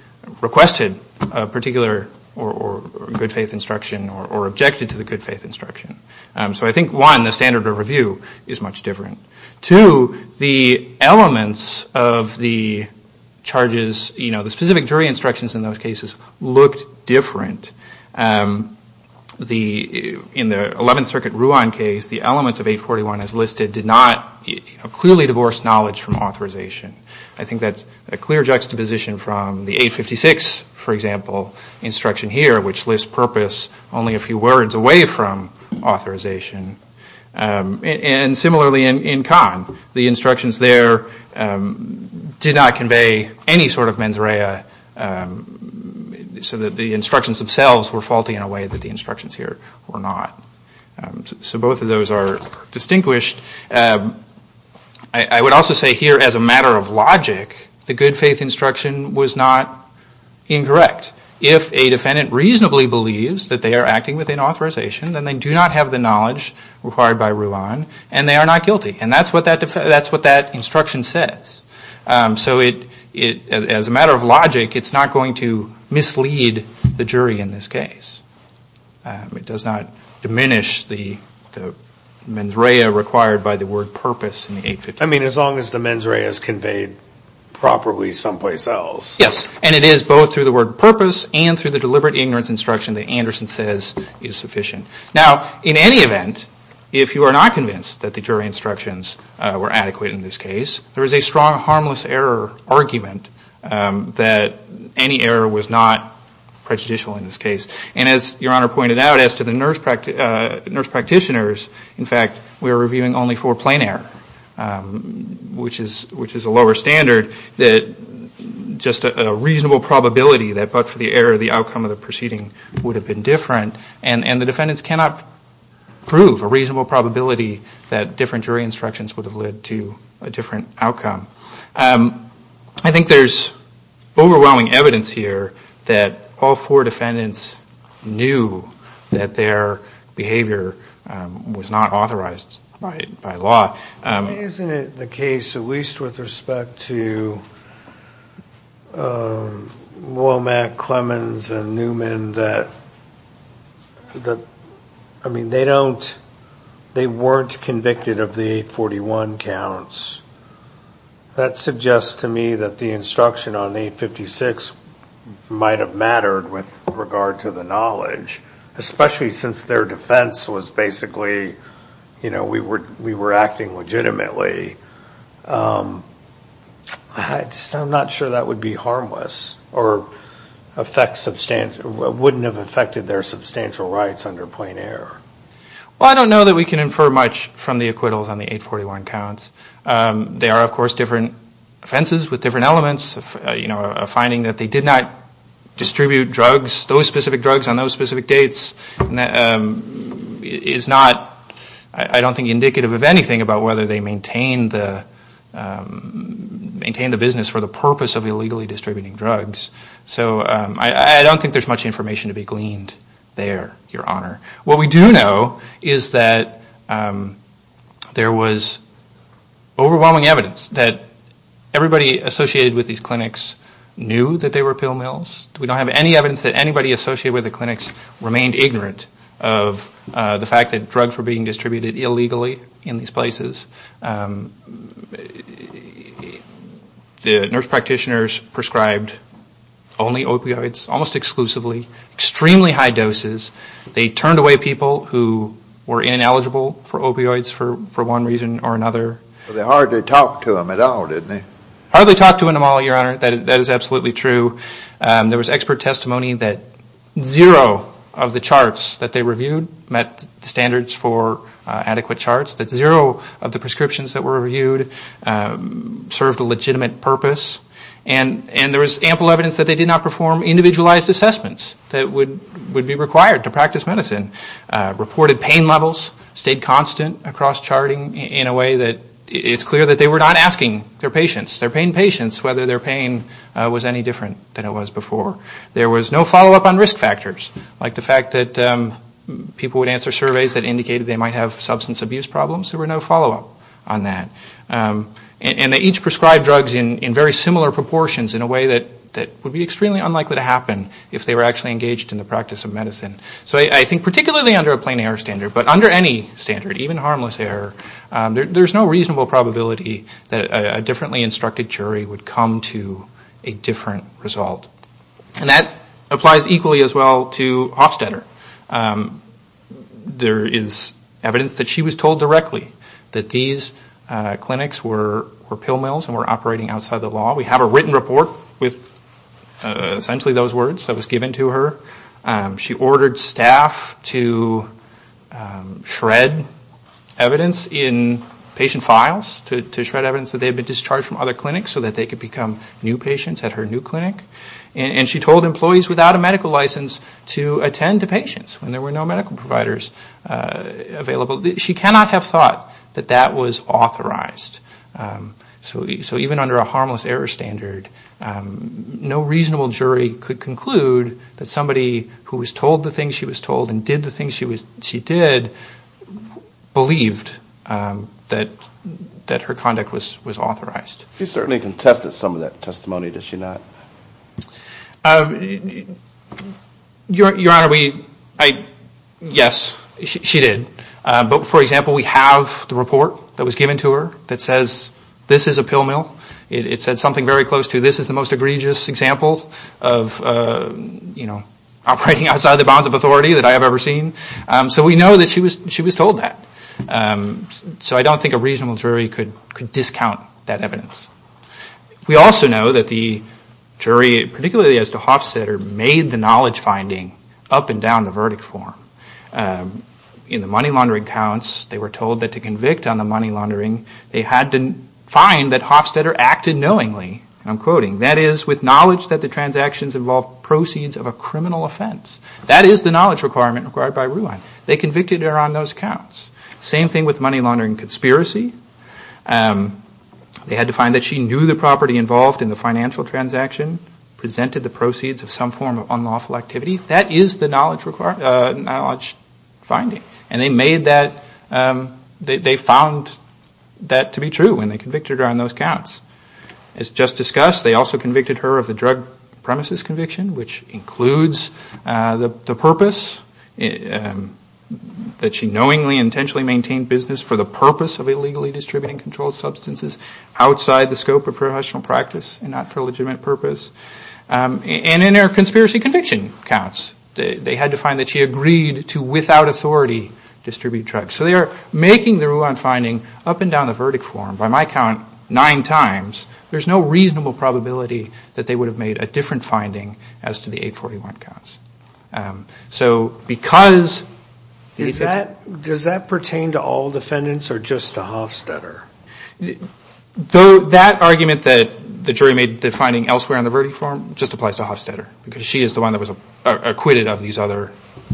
requested a particular good faith instruction or objected to the good faith instruction. So I think, one, the standard of review is much different. Two, the elements of the charges, you know, the specific jury instructions in those cases looked different. In the 11th Circuit Ruan case, the elements of 841 as listed did not clearly divorce knowledge from authorization. I think that's a clear juxtaposition from the 856, for example, instruction here, which lists purpose only a few words away from authorization. And similarly in Kahn, the instructions there did not convey any sort of mens rea so that the instructions themselves were faulty in a way that the instructions here were not. So both of those are distinguished. I would also say here as a matter of logic, the good faith instruction was not incorrect. If a defendant reasonably believes that they are acting within authorization, then they do not have the knowledge required by Ruan, and they are not guilty. And that's what that instruction says. So as a matter of logic, it's not going to mislead the jury in this case. It does not diminish the mens rea required by the word purpose in 850. I mean, as long as the mens rea is conveyed properly someplace else. Yes, and it is both through the word purpose and through the deliberate ignorance instruction that Anderson says is sufficient. Now, in any event, if you are not convinced that the jury instructions were adequate in this case, there is a strong harmless error argument that any error was not prejudicial in this case. And as Your Honor pointed out, as to the nurse practitioners, in fact, we were reviewing only for plain error, which is a lower standard, just a reasonable probability that but for the error, the outcome of the proceeding would have been different. And the defendants cannot prove a reasonable probability that different jury instructions would have led to a different outcome. I think there's overwhelming evidence here that all four defendants knew that their behavior was not authorized by law. Isn't it the case, at least with respect to Womack, Clemens, and Newman, that they weren't convicted of the 841 counts? That suggests to me that the instruction on 856 might have mattered with regard to the knowledge, especially since their defense was basically we were acting legitimately. I'm not sure that would be harmless or wouldn't have affected their substantial rights under plain error. Well, I don't know that we can infer much from the acquittals on the 841 counts. There are, of course, different offenses with different elements. A finding that they did not distribute drugs, those specific drugs on those specific dates is not, I don't think, indicative of anything about whether they maintained the business for the purpose of illegally distributing drugs. So I don't think there's much information to be gleaned there, Your Honor. What we do know is that there was overwhelming evidence that everybody associated with these clinics knew that they were pill mills. We don't have any evidence that anybody associated with the clinics remained ignorant of the fact that drugs were being distributed illegally in these places. The nurse practitioners prescribed only opioids, almost exclusively, extremely high doses. They turned away people who were ineligible for opioids for one reason or another. But they hardly talked to them at all, didn't they? Hardly talked to them at all, Your Honor. That is absolutely true. There was expert testimony that zero of the charts that they reviewed met standards for adequate charts, that zero of the prescriptions that were reviewed served a legitimate purpose. And there was ample evidence that they did not perform individualized assessments that would be required to practice medicine. Reported pain levels stayed constant across charting in a way that it's clear that they were not asking their patients, their paying patients whether their pain was any different than it was before. There was no follow-up on risk factors, like the fact that people would answer surveys that indicated they might have substance abuse problems. There were no follow-up on that. And they each prescribed drugs in very similar proportions in a way that would be extremely unlikely to happen if they were actually engaged in the practice of medicine. So I think particularly under a plain error standard, but under any standard, even harmless error, there's no reasonable probability that a differently instructed jury would come to a different result. And that applies equally as well to Hofstetter. There is evidence that she was told directly that these clinics were pill mills and were operating outside the law. We have a written report with essentially those words that was given to her. She ordered staff to shred evidence in patient files to shred evidence that they had been discharged from other clinics so that they could become new patients at her new clinic. And she told employees without a medical license to attend to patients when there were no medical providers available. She cannot have thought that that was authorized. So even under a harmless error standard, no reasonable jury could conclude that somebody who was told the things she was told and did the things she did believed that her conduct was authorized. You certainly contested some of that testimony, did she not? Your Honor, yes, she did. But for example, we have the report that was given to her that says this is a pill mill. It said something very close to this is the most egregious example of operating outside the bounds of authority that I have ever seen. So we know that she was told that. So I don't think a reasonable jury could discount that evidence. We also know that the jury, particularly as to Hofstetter, made the knowledge finding up and down the verdict form. In the money laundering counts, they were told that to convict on the money laundering, they had to find that Hofstetter acted knowingly. I'm quoting, that is, with knowledge that the transactions involved proceeds of a criminal offense. That is the knowledge requirement required by Rulon. They convicted her on those counts. Same thing with money laundering conspiracy. They had to find that she knew the property involved in the financial transaction, presented the proceeds of some form of unlawful activity. That is the knowledge finding. And they found that to be true when they convicted her on those counts. As just discussed, they also convicted her of the drug premises conviction, which includes the purpose, that she knowingly and intentionally maintained business for the purpose of illegally distributing controlled substances outside the scope of professional practice and not for a legitimate purpose. And then there are conspiracy conviction counts. They had to find that she agreed to, without authority, distribute drugs. So they are making the Rulon finding up and down the verdict form. By my count, nine times. There's no reasonable probability that they would have made a different finding as to the 841 counts. So because... Does that pertain to all defendants or just to Hofstetter? That argument that the jury made that finding elsewhere in the verdict form just applies to Hofstetter because she is the one that was acquitted of these other...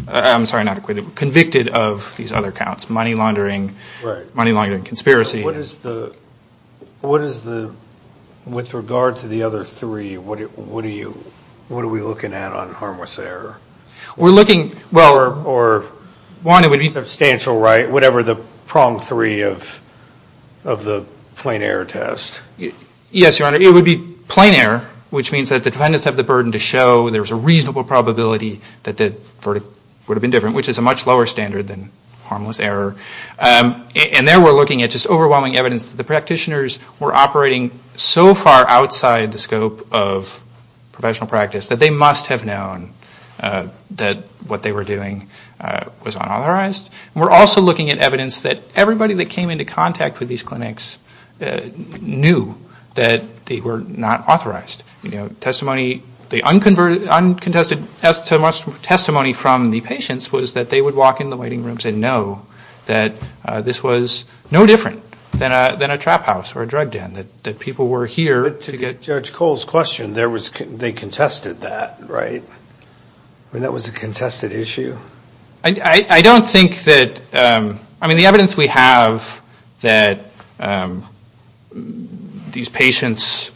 I'm sorry, not acquitted, convicted of these other counts, money laundering, conspiracy. What is the... With regard to the other three, what are we looking at on harmless error? We're looking... Well, or... One, it would be substantial, right? Whatever the prong three of the plain error test. Yes, Your Honor. It would be plain error, which means that the defendants have the burden to show there's a reasonable probability that the verdict would have been different, which is a much lower standard than harmless error. And then we're looking at just overwhelming evidence that the practitioners were operating so far outside the scope of professional practice that they must have known that what they were doing was unauthorized. We're also looking at evidence that everybody that came into contact with these clinics knew that they were not authorized. You know, testimony... The uncontested testimony from the patients was that they would walk into the waiting rooms and know that this was no different than a trap house or a drug den, that people were here... To get Judge Cole's question, they contested that, right? I mean, that was a contested issue? I don't think that... I mean, the evidence we have that these patients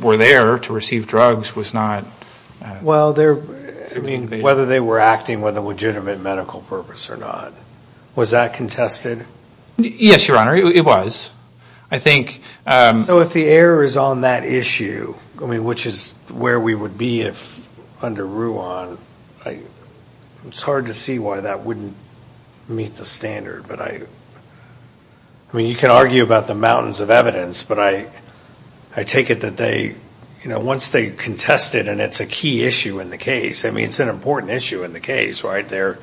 were there to receive drugs was not... Well, they're... I mean, whether they were acting with a legitimate medical purpose or not. Was that contested? Yes, Your Honor, it was. I think... So if the error is on that issue, I mean, which is where we would be if under Ruan, it's hard to see why that wouldn't meet the standard, but I... I mean, you can argue about the mountains of evidence, but I take it that they... You know, once they contest it and it's a key issue in the case, I mean, it's an important issue in the case, right? They're...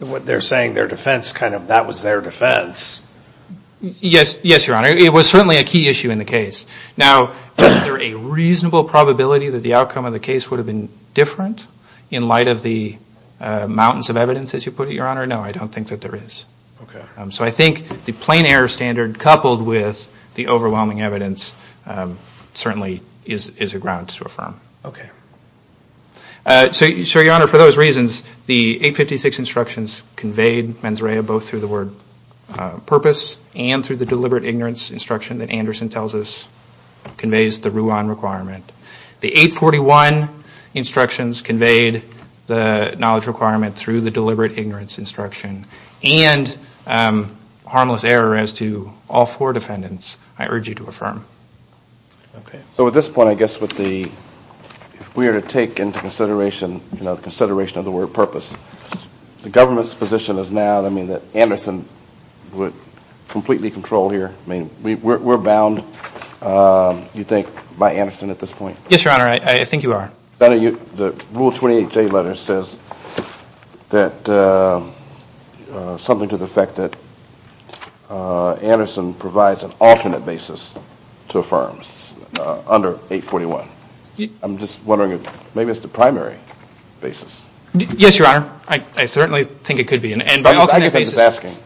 What they're saying, their defense kind of... That was their defense. Yes, Your Honor. It was certainly a key issue in the case. Now, is there a reasonable probability that the outcome of the case would have been different in light of the mountains of evidence, as you put it, Your Honor? No, I don't think that there is. So I think the plain error standard coupled with the overwhelming evidence certainly is a ground to affirm. Okay. So, Your Honor, for those reasons, the 856 instructions conveyed mens rea both through the word purpose and through the deliberate ignorance instruction that Anderson tells us conveys the Ruan requirement. The 841 instructions conveyed the knowledge requirement through the deliberate ignorance instruction I urge you to affirm. Okay. So at this point, I guess with the... If we were to take into consideration, you know, consideration of the word purpose, the government's position is now, I mean, that Anderson would completely control here. I mean, we're bound, you think, by Anderson at this point. Yes, Your Honor, I think you are. The Rule 28 J letter says that... Something to the effect that Anderson provides an alternate basis to affirm under 841. I'm just wondering if maybe it's the primary basis. Yes, Your Honor, I certainly think it could be. And by alternate basis...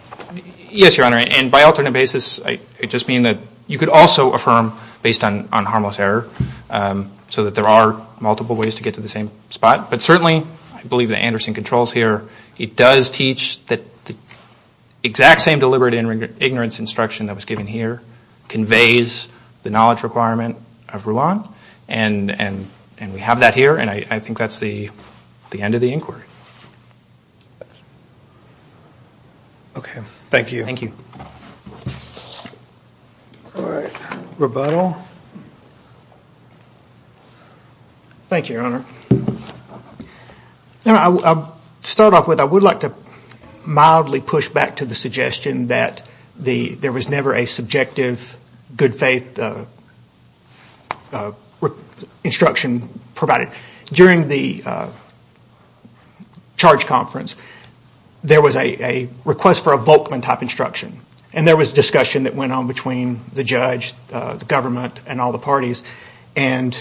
Yes, Your Honor, and by alternate basis, I just mean that you could also affirm based on harmless error so that there are multiple ways to get to the same spot. But certainly, I believe that Anderson controls here. He does teach the exact same deliberate ignorance instruction that was given here, conveys the knowledge requirement of Rouen, and we have that here, and I think that's the end of the inquiry. Okay. Thank you. Thank you. All right. Rebuttal? Thank you, Your Honor. You know, to start off with, I would like to mildly push back to the suggestion that there was never a subjective good faith instruction provided. During the charge conference, there was a request for a Volkman type instruction, and there was discussion that went on between the judge, the government, and all the parties, and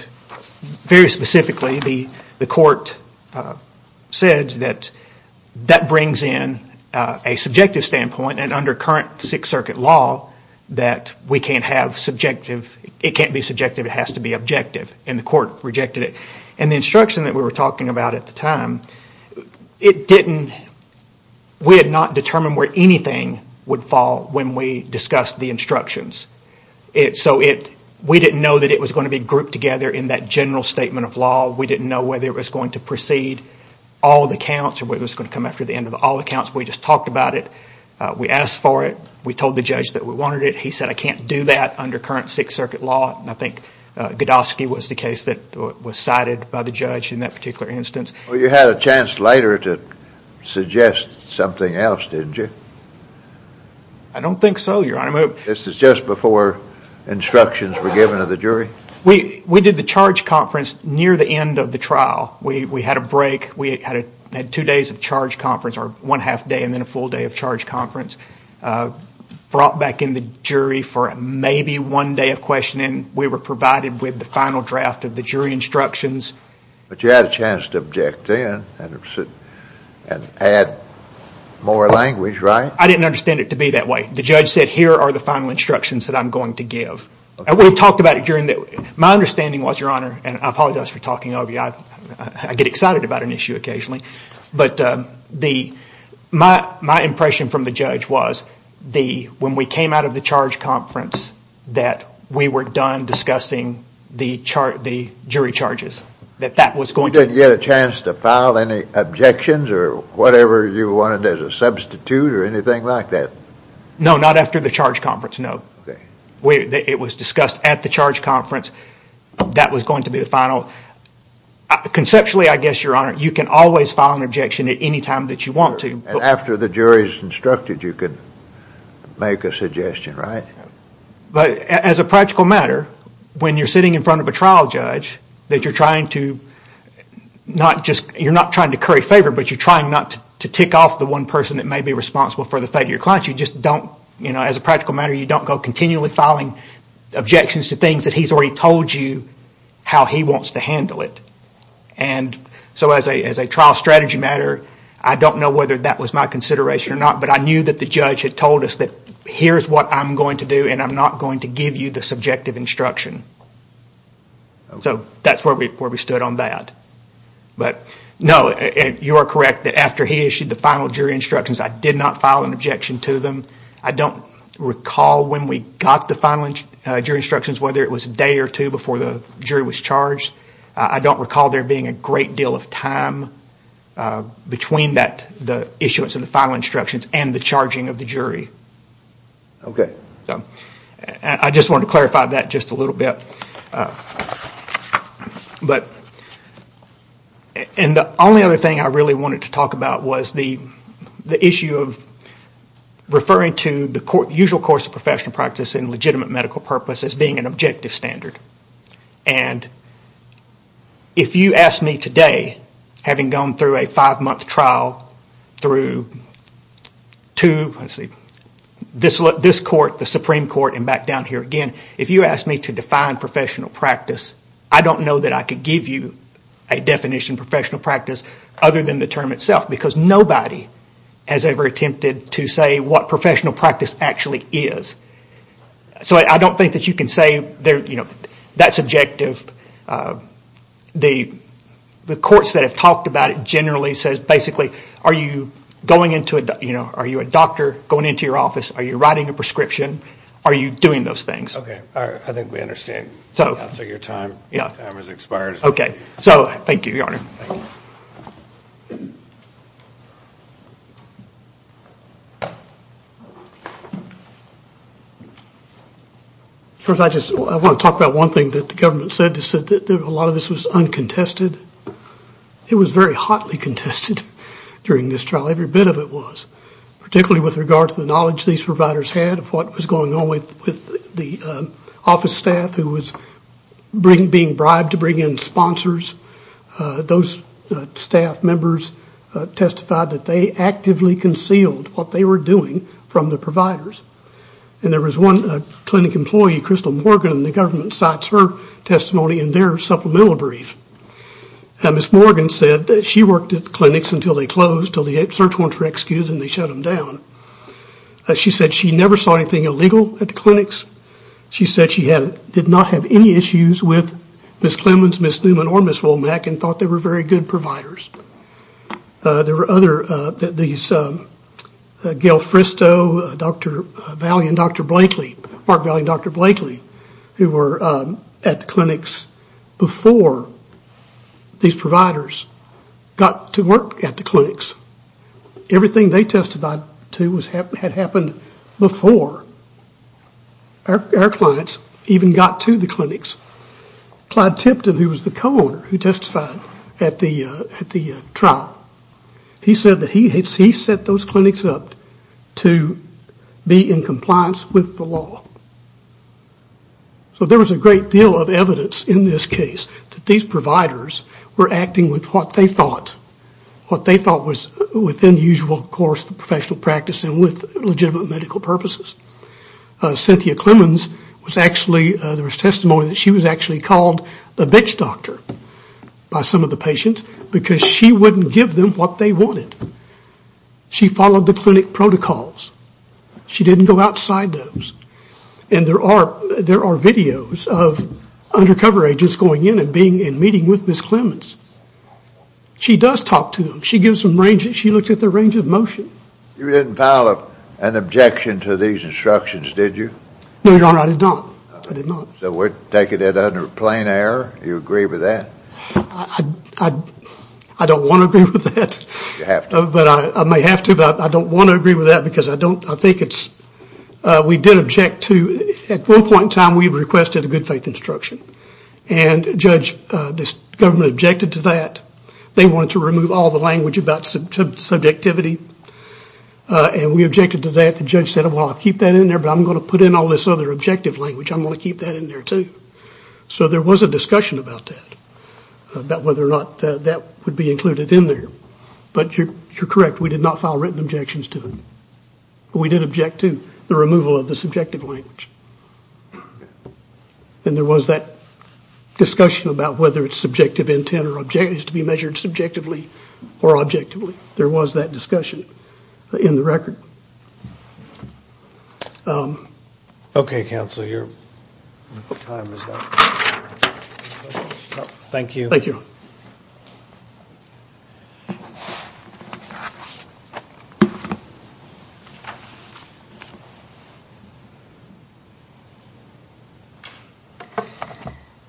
very specifically, the court said that that brings in a subjective standpoint and under current Sixth Circuit law, that we can't have subjective – it can't be subjective. It has to be objective, and the court rejected it. And the instruction that we were talking about at the time, it didn't – we had not determined where anything would fall when we discussed the instructions. So we didn't know that it was going to be grouped together in that general statement of law. We didn't know whether it was going to precede all the counts or whether it was going to come after the end of all the counts. We just talked about it. We asked for it. We told the judge that we wanted it. He said, I can't do that under current Sixth Circuit law, and I think Godosky was the case that was cited by the judge in that particular instance. Well, you had a chance later to suggest something else, didn't you? I don't think so, Your Honor. This was just before instructions were given to the jury? We did the charge conference near the end of the trial. We had a break. We had two days of charge conference, or one half day and then a full day of charge conference. Brought back in the jury for maybe one day of questioning. We were provided with the final draft of the jury instructions. But you had a chance to object then and add more language, right? I didn't understand it to be that way. The judge said, here are the final instructions that I'm going to give. We'll talk about it during the – my understanding was, Your Honor, and I apologize for talking over you. I get excited about an issue occasionally. But my impression from the judge was when we came out of the charge conference that we were done discussing the jury charges, that that was going to – Did you get a chance to file any objections or whatever you wanted as a substitute or anything like that? No, not after the charge conference, no. It was discussed at the charge conference. That was going to be the final – conceptually, I guess, Your Honor, you can always file an objection at any time that you want to. And after the jury is instructed, you can make a suggestion, right? But as a practical matter, when you're sitting in front of a trial judge, that you're trying to not just – you're not trying to curry favor, but you're trying not to tick off the one person that may be responsible for the fate of your client. You just don't – as a practical matter, you don't go continually filing objections to things that he's already told you how he wants to handle it. And so as a trial strategy matter, I don't know whether that was my consideration or not, but I knew that the judge had told us that here's what I'm going to do and I'm not going to give you the subjective instruction. So that's where we stood on that. But, no, you are correct that after he issued the final jury instructions, I did not file an objection to them. I don't recall when we got the final jury instructions, whether it was a day or two before the jury was charged. I don't recall there being a great deal of time between the issuance of the final instructions and the charging of the jury. I just wanted to clarify that just a little bit. And the only other thing I really wanted to talk about was the issue of referring to the usual course of professional practice and legitimate medical purpose as being an objective standard. And if you ask me today, having gone through a five-month trial through this court, the Supreme Court, and back down here again, if you ask me to define professional practice, I don't know that I could give you a definition of professional practice other than the term itself because nobody has ever attempted to say what professional practice actually is. So I don't think that you can say that's objective. The courts that have talked about it generally says basically, are you a doctor going into your office, are you writing a prescription, are you doing those things. Okay. All right. I think we understand. After your time expires. Okay. So thank you, Your Honor. I want to talk about one thing that the government said, they said that a lot of this was uncontested. It was very hotly contested during this trial, every bit of it was, particularly with regard to the knowledge these providers had of what was going on with the office staff who was being bribed to bring in sponsors. Those staff members testified that they actively concealed what they were doing from the providers. And there was one clinic employee, Crystal Morgan, the government cites her testimony in their supplemental brief. And Ms. Morgan said that she worked at the clinics until they closed, until the search warrant was excused and they shut them down. She said she never saw anything illegal at the clinics. She said she did not have any issues with Ms. Clemmons, Ms. Newman, or Ms. Womack and thought they were very good providers. There were other, these, Gail Fristo, Dr. Valli and Dr. Blakely, Mark Valli and Dr. Blakely, who were at the clinics before these providers got to work at the clinics. Everything they testified to had happened before our clients even got to the clinics. Clyde Tipton, who was the co-owner who testified at the trial, he said that he set those clinics up to be in compliance with the law. So there was a great deal of evidence in this case that these providers were acting with what they thought, what they thought was within the usual course of professional practice and with legitimate medical purposes. Cynthia Clemmons was actually, there was testimony that she was actually called a bitch doctor by some of the patients because she wouldn't give them what they wanted. She followed the clinic protocols. She didn't go outside those. And there are videos of undercover agents going in and being, and meeting with Ms. Clemmons. She does talk to them. She gives them, she looks at their range of motion. You didn't file an objection to these instructions, did you? No, I did not. So we're taking it under plain error? Do you agree with that? I don't want to agree with that. You have to. But I may have to, but I don't want to agree with that because I don't, I think it's, we do object to, at one point in time we requested a good faith instruction. And judge, this government objected to that. They wanted to remove all the language about subjectivity. And we objected to that. The judge said, well, I'll keep that in there, but I'm going to put in all this other objective language. I'm going to keep that in there too. So there was a discussion about that, about whether or not that would be included in there. But you're correct. We did not file written objections to it. We did object to the removal of the subjective language. And there was that discussion about whether it's subjective intent or objectives to be measured subjectively or objectively. There was that discussion in the record. Okay, Counselor, your time is up. Thank you. Thank you.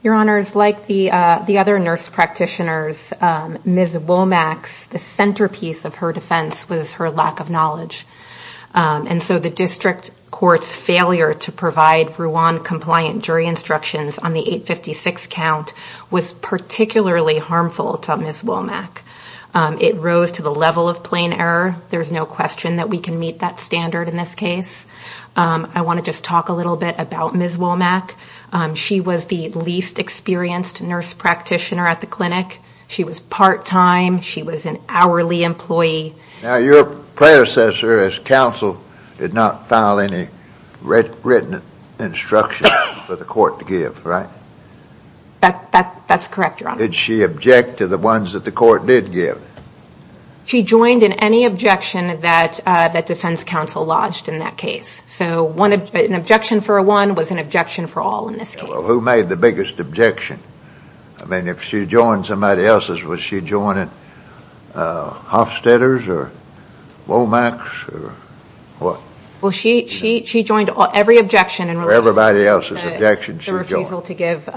Your Honors, like the other nurse practitioners, Ms. Womack's, the centerpiece of her defense was her lack of knowledge. And so the district court's failure to provide Rwandan compliant jury instructions on the 856 count was particularly harmful to Ms. Womack. It rose to the level of plain error. There's no question that we can meet that standard in this case. I want to just talk a little bit about Ms. Womack. She was the least experienced nurse practitioner at the clinic. She was part-time. She was an hourly employee. Now, your predecessor as counsel did not file any written instructions for the court to give, right? That's correct, Your Honor. Did she object to the ones that the court did give? She joined in any objection that defense counsel lodged in that case. So an objection for one was an objection for all in this case. Who made the biggest objection? I mean, if she joined somebody else's, was she joining Hofstetter's or Womack's or what? Well, she joined every objection. Everybody else's objections she joined. The refusal to give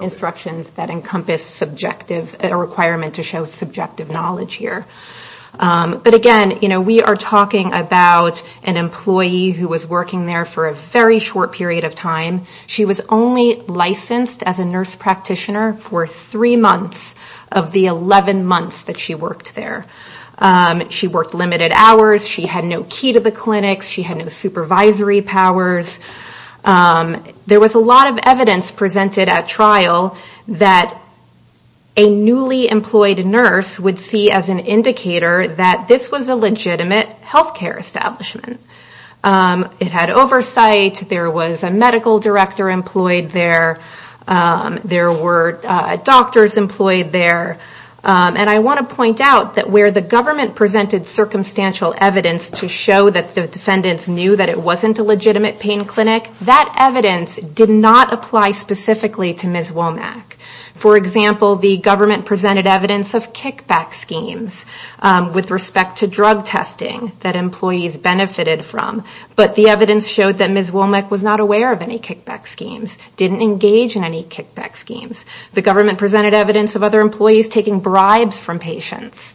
instructions that encompass subjective, a requirement to show subjective knowledge here. But again, you know, we are talking about an employee who was working there for a very short period of time. She was only licensed as a nurse practitioner for three months of the 11 months that she worked there. She worked limited hours. She had no key to the clinic. She had no supervisory powers. There was a lot of evidence presented at trial that a newly employed nurse would see as an indicator that this was a legitimate healthcare establishment. It had oversight. There was a medical director employed there. There were doctors employed there. And I want to point out that where the government presented circumstantial evidence to show that the defendants knew that it wasn't a legitimate pain clinic, that evidence did not apply specifically to Ms. Womack. For example, the government presented evidence of kickback schemes with respect to drug testing that employees benefited from. But the evidence showed that Ms. Womack was not aware of any kickback schemes, didn't engage in any kickback schemes. The government presented evidence of other employees taking bribes from patients.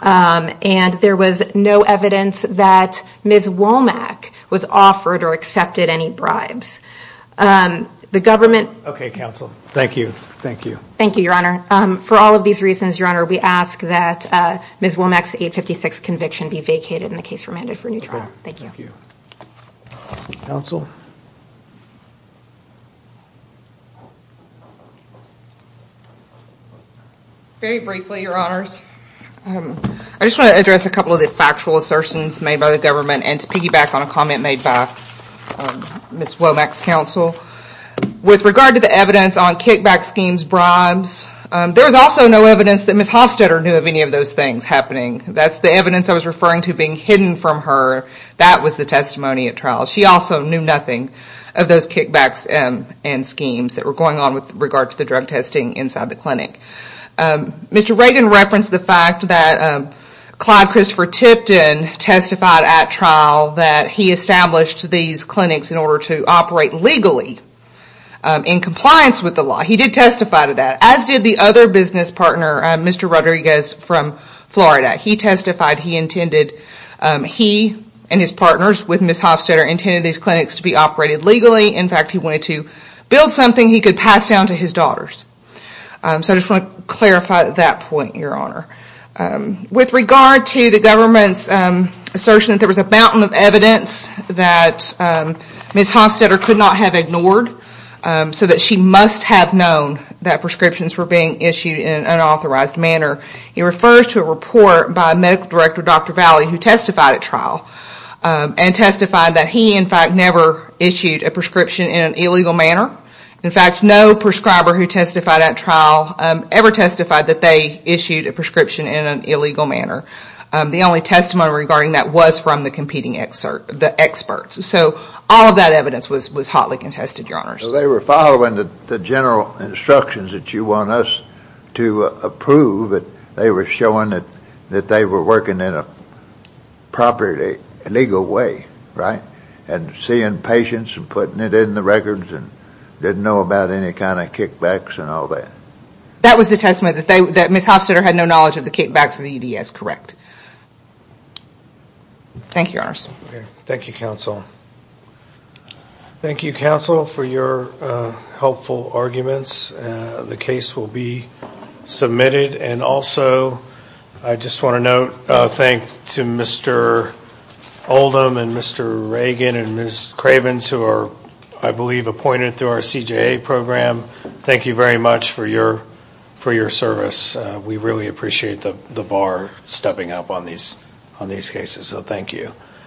And there was no evidence that Ms. Womack was offered or accepted any bribes. Okay, counsel. Thank you. Thank you. Thank you, Your Honor. For all of these reasons, Your Honor, we ask that Ms. Womack's 856 conviction be vacated in the case for mandatory neutrality. Thank you. Thank you. Counsel? Very briefly, Your Honors, I just want to address a couple of the factual assertions made by the government and to piggyback on a comment made by Ms. Womack's counsel. With regard to the evidence on kickback schemes, bribes, there's also no evidence that Ms. Hofstetter knew of any of those things happening. That's the evidence I was referring to being hidden from her. That was the testimony at trial. She also knew nothing of those kickbacks and schemes that were going on with regard to the drug testing inside the clinic. Mr. Reagan referenced the fact that Clive Christopher Tipton testified at his clinics in order to operate legally in compliance with the law. He did testify to that, as did the other business partner, Mr. Rodriguez from Florida. He testified he intended he and his partners with Ms. Hofstetter intended these clinics to be operated legally. In fact, he wanted to build something he could pass down to his daughters. So I just want to clarify that point, Your Honor. With regard to the government's assertion that there was a mountain of evidence that Ms. Hofstetter could not have ignored so that she must have known that prescriptions were being issued in an unauthorized manner, he refers to a report by medical director Dr. Valley who testified at trial and testified that he, in fact, never issued a prescription in an illegal manner. In fact, no prescriber who testified at trial ever testified that they issued a prescription in an illegal manner. The only testimony regarding that was from the competing experts. So all of that evidence was hotly contested, Your Honor. They were following the general instructions that you want us to approve. They were showing that they were working in a properly legal way, right, and seeing patients and putting it in the records and didn't know about any kind of kickbacks and all that. That was the testimony that Ms. Hofstetter had no knowledge of the Thank you, Your Honor. Thank you, counsel. Thank you, counsel, for your helpful arguments. The case will be submitted. And also, I just want to note a thank to Mr. Oldham and Mr. Reagan and Ms. Cravens who are, I believe, appointed through our CJA program. Thank you very much for your service. We really appreciate the bar stepping up on these cases. So thank you.